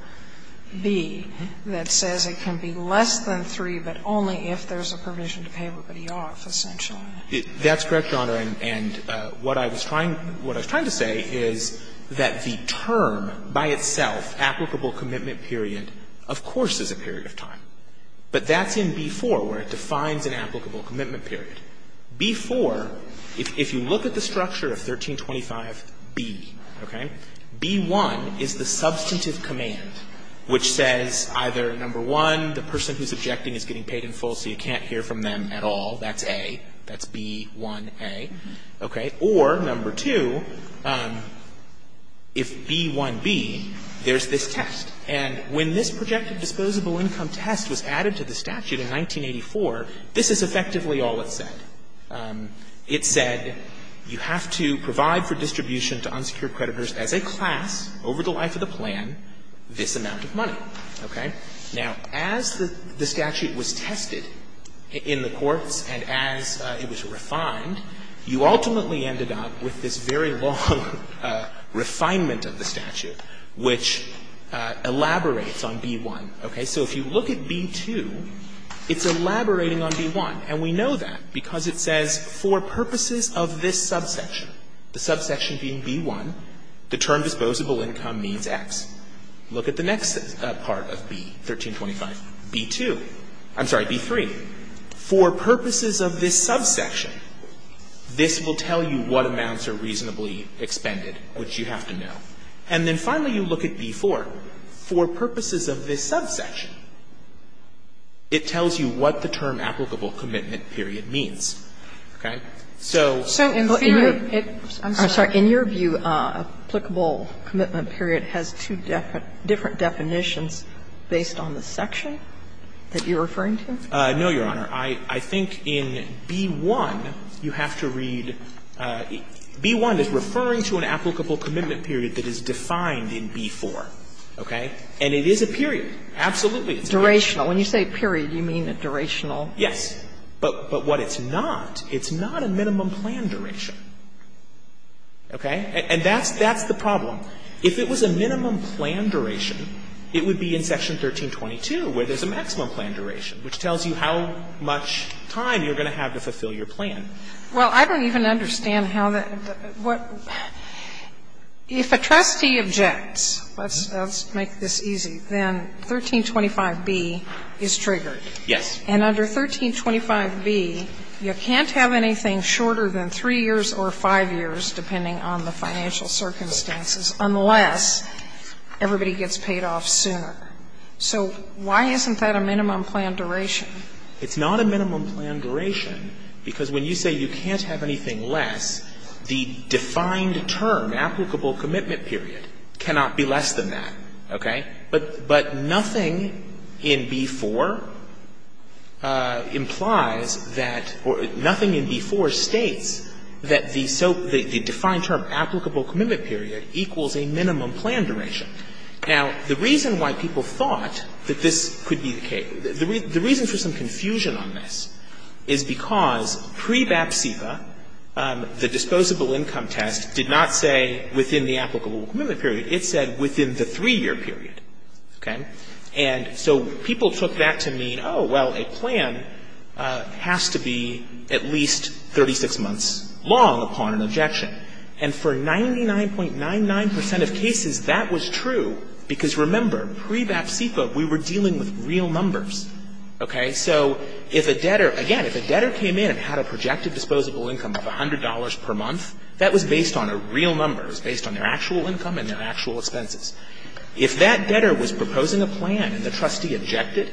that says it can be less than 3 but only if there's a provision to pay everybody off, essentially. That's correct, Your Honor. And what I was trying to say is that the term by itself applicable commitment period of course is a period of time. But that's in B4 where it defines an applicable commitment period. B4, if you look at the structure of 1325B, okay, B1 is the substantive command which says either number 1 the person who's objecting is getting paid in full so you can't hear from them at all, that's A, that's B1A. Okay, or number 2 if B1B there's this test. And when this projected disposable income test was added to the statute in 1984 this is effectively all it said. It said you have to provide for distribution to unsecured creditors as a class over the life of the plan this amount of money. Okay. Now, as the statute was tested in the courts and as it was refined you ultimately ended up with this very long refinement of the statute which elaborates on B1. Okay, so if you look at B2 it's elaborating on B1 and we know that because it says for purposes of this subsection the subsection being B1 the term disposable income means X. Look at the next part of B 1325, B2 I'm sorry, B3 for purposes of this subsection this will tell you what amounts are reasonably expended which you have to know. And then finally you look at B4 for purposes of this subsection it tells you what the term applicable commitment period means. Okay. So in theory I'm sorry, in your view applicable commitment period has two different definitions based on the section that you're referring to? No, Your Honor. I think in B1 you have to read B1 is referring to an applicable commitment period that is defined in B4. Okay. And it is a period. Absolutely. Durational. When you say period you mean a durational. Yes. But what it's not it's not a minimum plan duration. Okay. And that's the problem. If it was a minimum plan duration it would be in section 1322 where there's a maximum plan duration which tells you how much time you're going to have to fulfill your plan. Well, I don't even understand how what if a trustee objects let's make this easy then 1325B is triggered. Yes. And under 1325B you can't have anything shorter than 3 years or 5 years depending on the financial circumstances unless everybody gets paid off sooner. So why isn't that a minimum plan duration? It's not a minimum plan duration because when you say you can't have anything less, the defined term, applicable commitment period, cannot be less than that. Okay. But nothing in B4 implies that, or nothing in B4 states that the defined term, applicable commitment period equals a minimum plan duration. Now, the reason why people thought that this could be the case the reason for some confusion on this is because pre-BAP-CIPA the disposable income test did not say within the applicable commitment period. It said within the 3 year period. Okay. And so people took that to mean, oh well a plan has to be at least 36 months long upon an objection. And for 99.99% of cases that was true because remember, pre-BAP-CIPA we were dealing with real numbers. Okay. So if a debtor, again, if a debtor came in and had a projected disposable income of $100 per month, that was based on a real number. It was based on their actual income and their actual expenses. If that debtor was proposing a plan and the trustee rejected,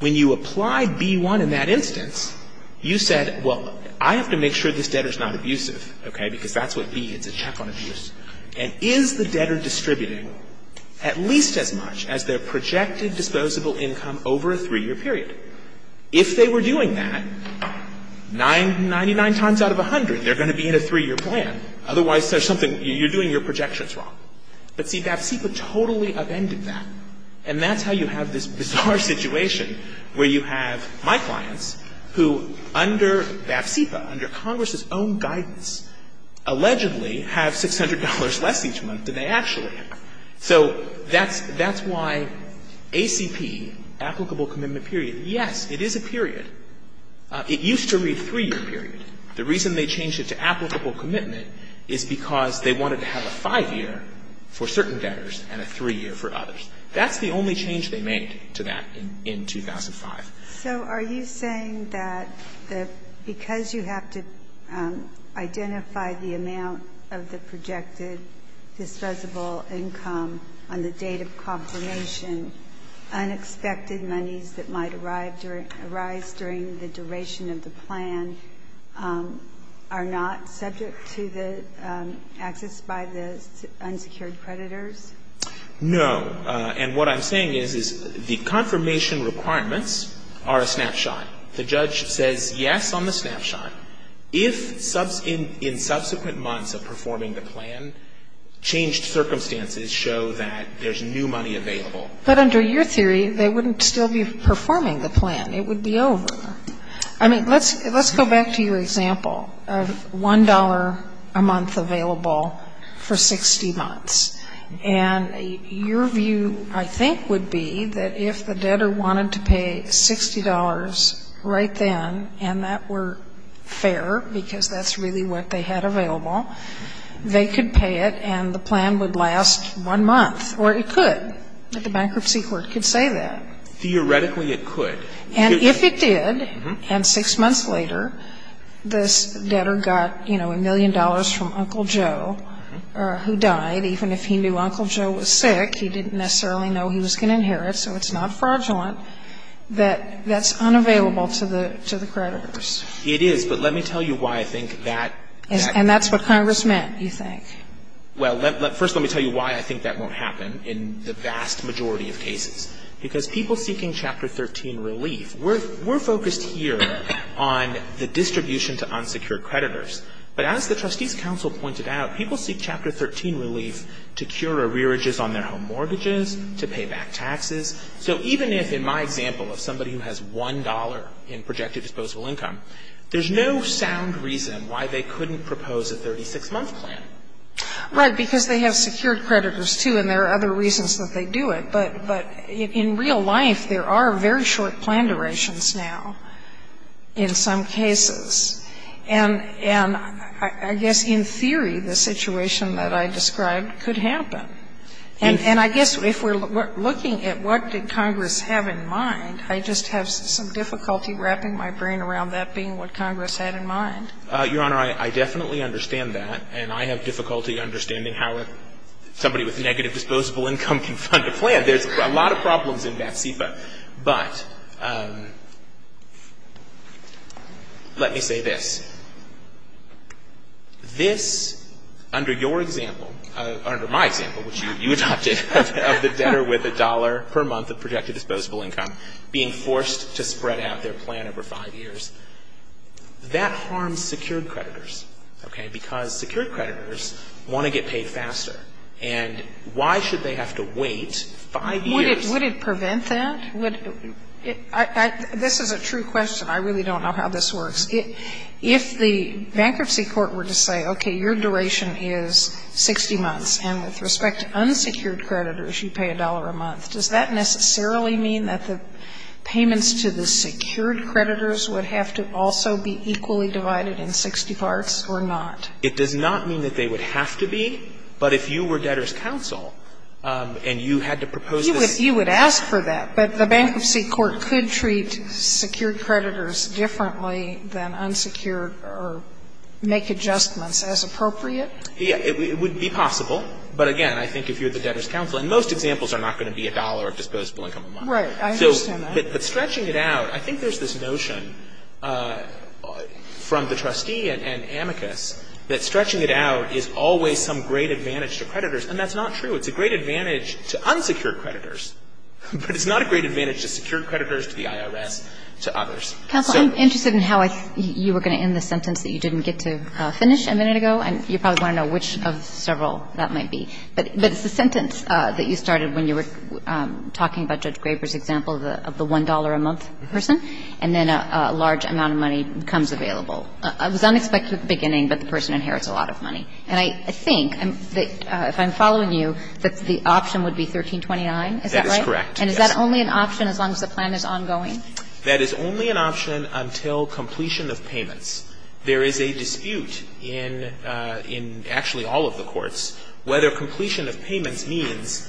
when you applied B-1 in that instance you said, well, I have to make sure this debtor is not abusive. Okay. Because that's what B is, a check on abuse. And is the debtor distributing at least as much as their projected disposable income over a 3 year period? If they were doing that, 99 times out of 100 they're going to be in a 3 year plan. Otherwise there's something, you're doing your projections wrong. But see, BAP-CIPA totally upended that. And that's how you have this bizarre situation where you have my clients who under BAP-CIPA, under Congress's own guidance, allegedly have $600 less each month than they actually have. So that's why ACP, applicable commitment period, yes, it is a period. It used to be a 3 year period. The reason they changed it to applicable commitment is because they wanted to have a 5 year for certain debtors and a 3 year for others. That's the only change they made to that in 2005. So are you saying that because you have to identify the amount of the projected disposable income on the date of confirmation, unexpected monies that might arise during the duration of the plan are not subject to the access by the unsecured creditors? No. And what I'm saying is the confirmation requirements are a snapshot. The judge says yes on the snapshot. If in subsequent months of performing the plan, changed circumstances show that there's new money available. But under your theory, they wouldn't still be performing the plan. It would be over. I mean, let's go back to your example of $1 a month available for 60 months. And your view, I think, would be that if the debtor wanted to pay $60 right then, and that were fair, because that's really what they had available, they could pay it and the plan would last one month. Or it could. The bankruptcy court could say that. Theoretically, it could. And if it did, and 6 months later, this debtor got, you know, a million dollars from Uncle Joe who died, even if he knew Uncle Joe was sick, he didn't necessarily know he was going to inherit, so it's not fraudulent, that that's unavailable to the creditors. It is, but let me tell you why I think that... And that's what Congress meant, you think. Well, first let me tell you why I think that won't happen in the vast majority of cases. Because people seeking Chapter 13 relief, we're focused here on the distribution to unsecured creditors. But as the Trustees Council pointed out, people seek Chapter 13 relief to cure arrearages on their home mortgages, to pay back taxes. So even if, in my example of somebody who has $1 in projected disposable income, there's no sound reason why they couldn't propose a 36-month plan. Right. Because they have secured creditors, too, and there are other reasons that they do it. But in real life, there are very short plan durations now in some cases. And I guess in theory, the situation that I described could happen. And I guess if we're looking at what did Congress have in mind, I just have some difficulty wrapping my brain around that being what Congress had in mind. Your Honor, I definitely understand that, and I have difficulty understanding how somebody with negative disposable income can fund a plan. There's a lot of problems in that SIPA. But let me say this. This, under your example, or under my example, which you adopted, of the debtor with $1 per month of projected disposable income being forced to spread out their plan over five years, that harms secured creditors, okay, because secured creditors want to get paid faster. And why should they have to wait five years? Would it prevent that? This is a true question. I really don't know how this works. If the bankruptcy court were to say, okay, your duration is 60 months, and with respect to unsecured creditors, you pay $1 a month, does that necessarily mean that the payments to the secured creditors would have to also be equally divided in 60 parts or not? It does not mean that they would have to be. But if you were debtor's counsel and you had to propose this. You would ask for that. But the bankruptcy court could treat secured creditors differently than unsecured or make adjustments as appropriate? Yeah. It would be possible. But, again, I think if you're the debtor's counsel, and most examples are not going to be $1 of disposable income a month. Right. I understand that. But stretching it out, I think there's this notion from the trustee and amicus that stretching it out is always some great advantage to creditors. And that's not true. It's a great advantage to unsecured creditors. But it's not a great advantage to secured creditors, to the IRS, to others. Counsel, I'm interested in how you were going to end the sentence that you didn't get to finish a minute ago, and you probably want to know which of several that might be. But it's the sentence that you started when you were talking about Judge Graber's example of the $1 a month person, and then a large amount of money becomes available. I was unexpected at the beginning, but the person inherits a lot of money. And I think, if I'm following you, that the option would be 1329, is that right? That is correct, yes. And is that only an option as long as the plan is ongoing? That is only an option until completion of payments. There is a dispute in actually all of the courts whether completion of payments means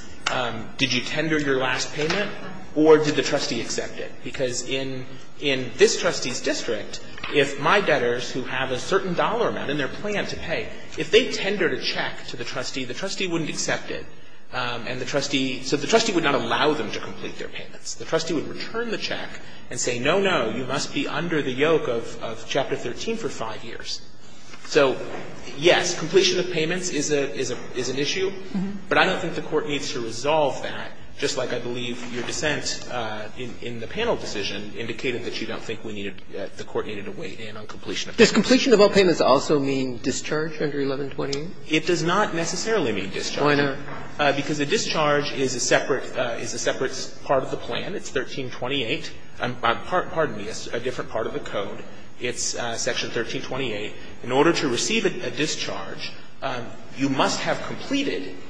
did you tender your last payment or did the trustee accept it? Because in this trustee's district, if my client is a debtor who has a certain dollar amount in their plan to pay, if they tendered a check to the trustee, the trustee wouldn't accept it, and the trustee – so the trustee would not allow them to complete their payments. The trustee would return the check and say, no, no, you must be under the yoke of Chapter 13 for five years. So, yes, completion of payments is an issue, but I don't think the Court needs to resolve that, just like I believe your dissent in the panel decision indicated that you don't think the Court needed to weigh in on completion of payments. Does completion of all payments also mean discharge under 1128? It does not necessarily mean discharge. Oh, I know. Because a discharge is a separate part of the plan. It's 1328. Pardon me. It's a different part of the code. It's Section 1328. In order to receive a discharge, you must have a discharge.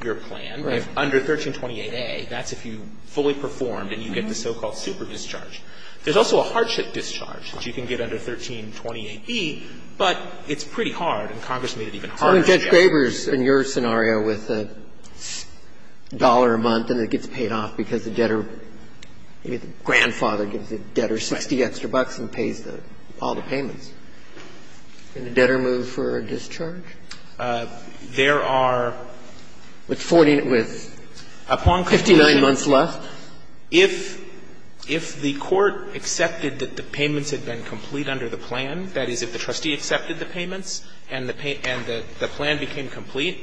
That's if you fully performed and you get the so-called superdischarge. There's also a hardship discharge that you can get under 1328e, but it's pretty hard, and Congress made it even harder. So in Judge Graber's – in your scenario with a dollar a month and it gets paid off because the debtor – maybe the grandfather gives the debtor 60 extra bucks and pays the – all the payments. Can the debtor move for a discharge? There are – With 40 – with? 59 months left. If the court accepted that the payments had been complete under the plan, that is, if the trustee accepted the payments and the plan became complete,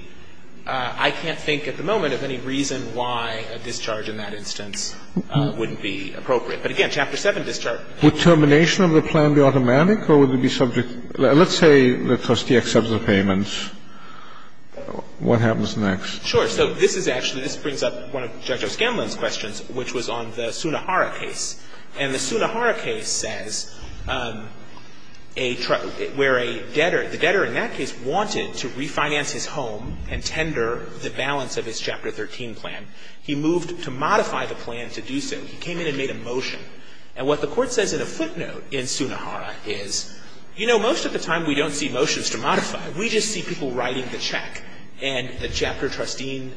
I can't think at the moment of any reason why a discharge in that instance wouldn't be appropriate. But again, Chapter 7 discharge. Would termination of the plan be automatic or would it be subject – let's say the trustee accepts the payments. What happens next? Sure. So this is actually – this brings up one of Judge O'Scanlan's questions, which was on the Sunnahara case. And the Sunnahara case says a – where a debtor – the debtor in that case wanted to refinance his home and tender the balance of his Chapter 13 plan. He moved to modify the plan to do so. He came in and made a motion. And what the court says in a footnote in Sunnahara is, you know, most of the time we don't see motions to modify. We just see people writing the check. And the Chapter 13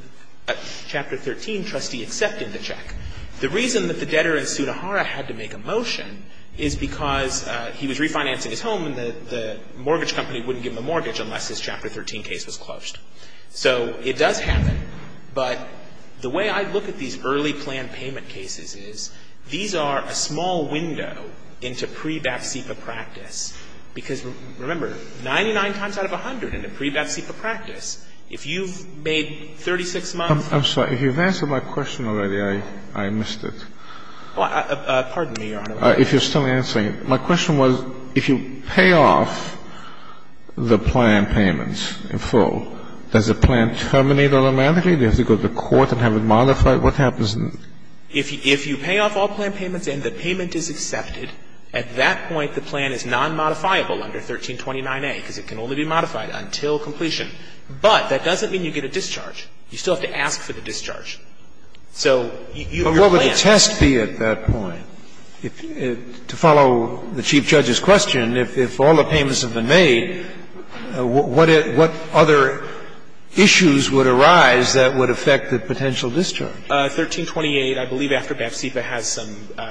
trustee accepted the check. The reason that the debtor in Sunnahara had to make a motion is because he was refinancing his home and the mortgage company wouldn't give him a mortgage unless his Chapter 13 case was closed. So it does happen. But the way I look at these early plan payment cases is these are a small window into pre-BFCPA practice. Because, remember, 99 times out of 100 in a pre-BFCPA practice, if you've made 36 months or so – I'm sorry. If you've answered my question already, I missed it. Pardon me, Your Honor. If you're still answering it. My question was, if you pay off the plan payments in full, does the plan terminate automatically? Does it go to court and have it modified? What happens if – If you pay off all plan payments and the payment is accepted, at that point the plan is nonmodifiable under 1329a, because it can only be modified until completion. But that doesn't mean you get a discharge. You still have to ask for the discharge. So your plan – But what would the test be at that point? To follow the Chief Judge's question, if all the payments have been made, what other issues would arise that would affect the potential discharge? 1328, I believe, after BFCPA, has some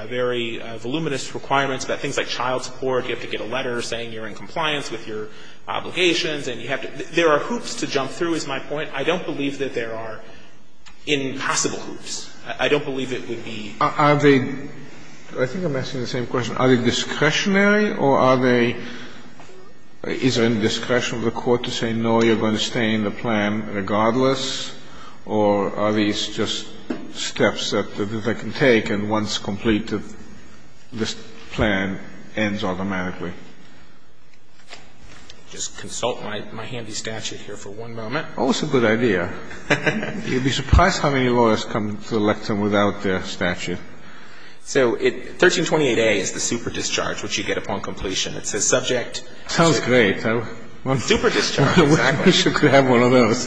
very voluminous requirements about things like child support. You have to get a letter saying you're in compliance with your obligations and you have to – there are hoops to jump through, is my point. I don't believe that there are impossible hoops. I don't believe it would be – Are they – I think I'm asking the same question. Are they discretionary or are they – is there any discretion of the court to say, no, you're going to stay in the plan regardless? Or are these just steps that they can take and once completed, this plan ends automatically? Just consult my handy statute here for one moment. Oh, it's a good idea. You'd be surprised how many lawyers come to the lectern without their statute. So 1328a is the super discharge, which you get upon completion. It says subject to – Sounds great. Super discharge, exactly. You should have one of those.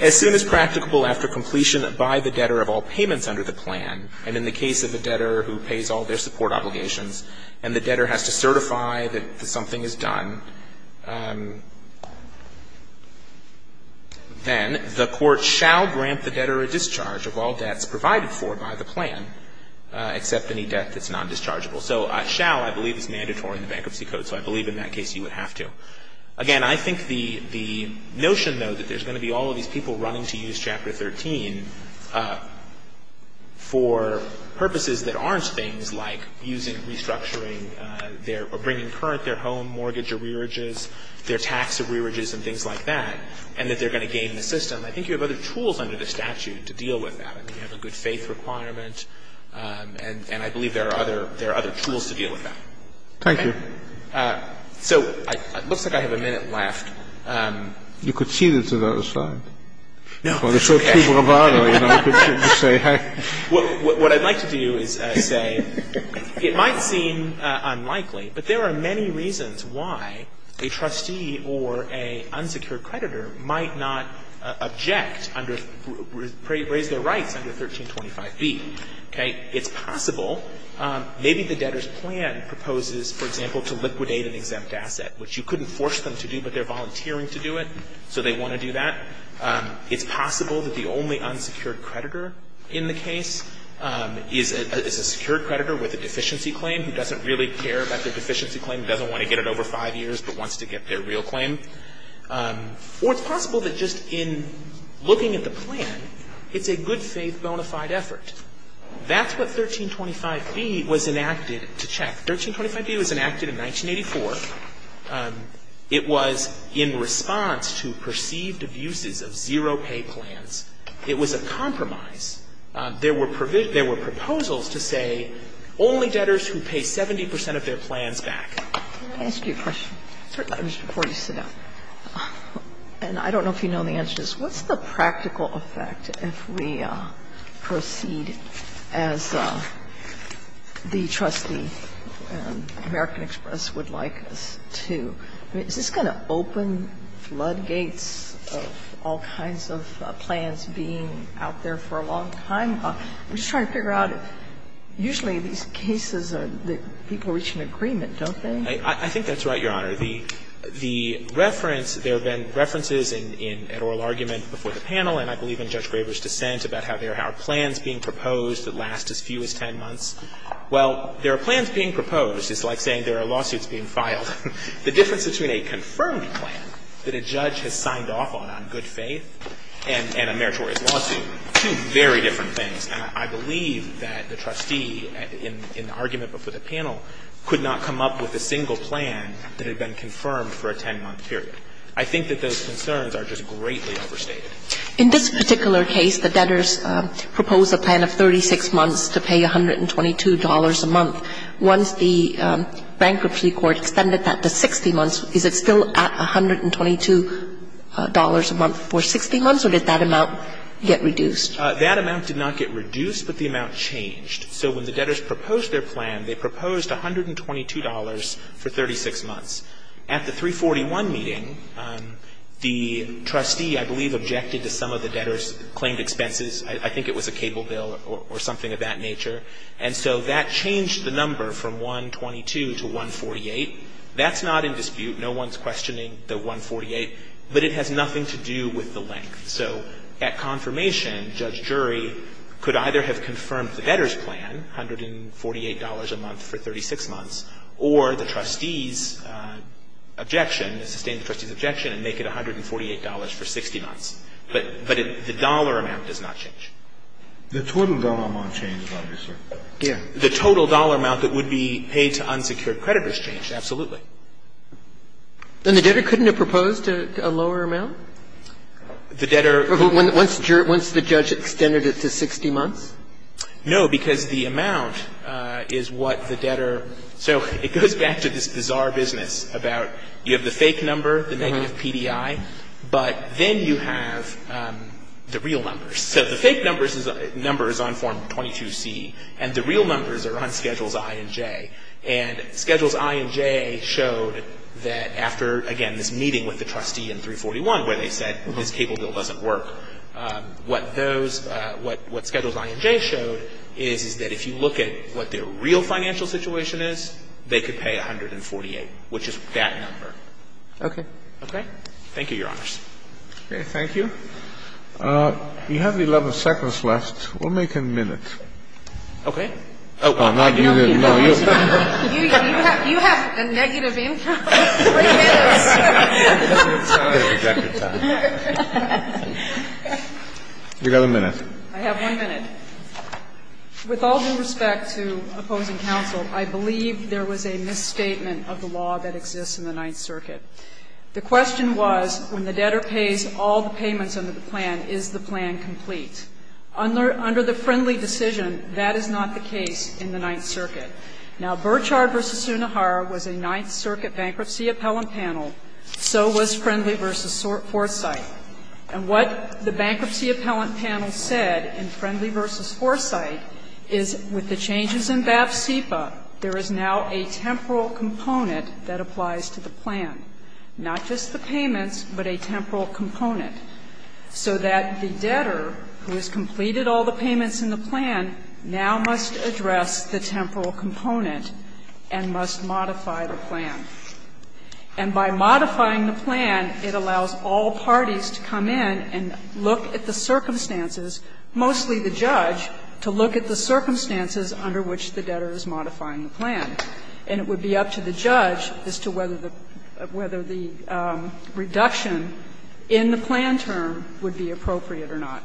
As soon as practicable after completion by the debtor of all payments under the plan, and in the case of the debtor who pays all their support obligations and the debtor has to certify that something is done, then the court shall grant the debtor a discharge of all debts provided for by the plan, except any debt that's non-dischargeable. So shall, I believe, is mandatory in the Bankruptcy Code, so I believe in that case you would have to. Again, I think the notion, though, that there's going to be all of these people running to use Chapter 13 for purposes that aren't things like using restructuring their – or bringing current their home mortgage or rearages, their tax of rearages and things like that, and that they're going to gain the system, I think you have other tools under the statute to deal with that. I mean, you have a good faith requirement, and I believe there are other – there are other tools to deal with that. Thank you. So it looks like I have a minute left. You could cede it to the other side. No, it's okay. Or they're so too bravado, you know, you could just say, heck. What I'd like to do is say it might seem unlikely, but there are many reasons why a trustee or an unsecured creditor might not object under – raise their rights under 1325b. Okay? And it's possible maybe the debtor's plan proposes, for example, to liquidate an exempt asset, which you couldn't force them to do, but they're volunteering to do it, so they want to do that. It's possible that the only unsecured creditor in the case is a – is a secured creditor with a deficiency claim who doesn't really care about their deficiency claim, doesn't want to get it over five years, but wants to get their real claim. Or it's possible that just in looking at the plan, it's a good faith bona fide effort. That's what 1325b was enacted to check. 1325b was enacted in 1984. It was in response to perceived abuses of zero-pay plans. It was a compromise. There were – there were proposals to say only debtors who pay 70 percent of their plans back. Sotomayor, can I ask you a question, just before you sit down? And I don't know if you know the answer to this. What's the practical effect if we proceed as the trustee, American Express, would like us to? I mean, is this going to open floodgates of all kinds of plans being out there for a long time? I'm just trying to figure out, usually these cases are – people reach an agreement, don't they? I think that's right, Your Honor. The reference – there have been references in an oral argument before the panel, and I believe in Judge Graber's dissent about how there are plans being proposed that last as few as 10 months. Well, there are plans being proposed. It's like saying there are lawsuits being filed. The difference between a confirmed plan that a judge has signed off on on good faith and a meritorious lawsuit, two very different things. And I believe that the trustee in the argument before the panel could not come up with a single plan that had been confirmed for a 10-month period. I think that those concerns are just greatly overstated. In this particular case, the debtors proposed a plan of 36 months to pay $122 a month. Once the bankruptcy court extended that to 60 months, is it still at $122 a month for 60 months, or did that amount get reduced? That amount did not get reduced, but the amount changed. So when the debtors proposed their plan, they proposed $122 for 36 months. At the 341 meeting, the trustee, I believe, objected to some of the debtors' claimed expenses. I think it was a cable bill or something of that nature. And so that changed the number from 122 to 148. That's not in dispute. No one's questioning the 148, but it has nothing to do with the length. So at confirmation, Judge Jury could either have confirmed the debtors' plan, $148 a month for 36 months, or the trustees' objection, sustain the trustees' objection and make it $148 for 60 months. But the dollar amount does not change. The total dollar amount changes, obviously. Yeah. The total dollar amount that would be paid to unsecured creditors changed, absolutely. Then the debtor couldn't have proposed a lower amount? The debtor ---- Once the judge extended it to 60 months? No, because the amount is what the debtor ---- So it goes back to this bizarre business about you have the fake number, the negative PDI, but then you have the real numbers. So the fake number is on Form 22C, and the real numbers are on Schedules I and J. And Schedules I and J showed that after, again, this meeting with the trustee in 341 where they said this cable bill doesn't work, what those ---- what Schedules I and J showed is that if you look at what the real financial situation is, they could pay 148, which is that number. Okay. Okay? Thank you, Your Honors. Okay. Thank you. You have 11 seconds left. We'll make a minute. Okay. You have a minute. I have one minute. With all due respect to opposing counsel, I believe there was a misstatement of the law that exists in the Ninth Circuit. The question was, when the debtor pays all the payments under the plan, is the plan complete? Under the Friendly decision, that is not the case in the Ninth Circuit. Now, Burchard v. Sunohara was a Ninth Circuit bankruptcy appellant panel, so was Friendly v. Forsythe. And what the bankruptcy appellant panel said in Friendly v. Forsythe is with the changes in BAF-CEPA, there is now a temporal component that applies to the plan, not just the payments, but a temporal component, so that the debtor who has completed all the payments in the plan now must address the temporal component and must modify the plan. And by modifying the plan, it allows all parties to come in and look at the circumstances, mostly the judge, to look at the circumstances under which the debtor is modifying the plan. And it would be up to the judge as to whether the reduction in the plan term would be appropriate or not.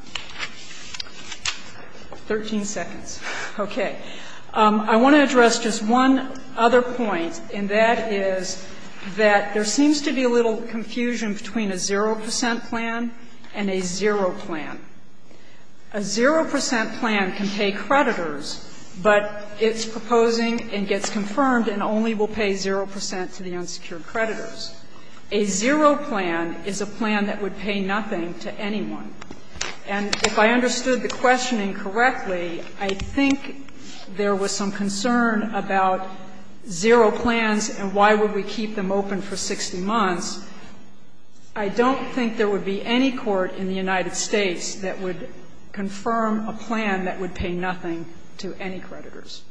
Thirteen seconds. Okay. I want to address just one other point, and that is that there seems to be a little confusion between a 0 percent plan and a 0 plan. A 0 percent plan can pay creditors, but it's proposing and gets confirmed and only will pay 0 percent to the unsecured creditors. A 0 plan is a plan that would pay nothing to anyone. And if I understood the questioning correctly, I think there was some concern about 0 plans and why would we keep them open for 60 months. I don't think there would be any court in the United States that would confirm a plan that would pay nothing to any creditors.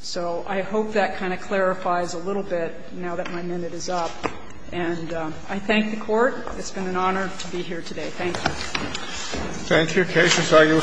So I hope that kind of clarifies a little bit now that my minute is up. And I thank the Court. It's been an honor to be here today. Thank you. Thank you. Case is argued sensitive. Roger.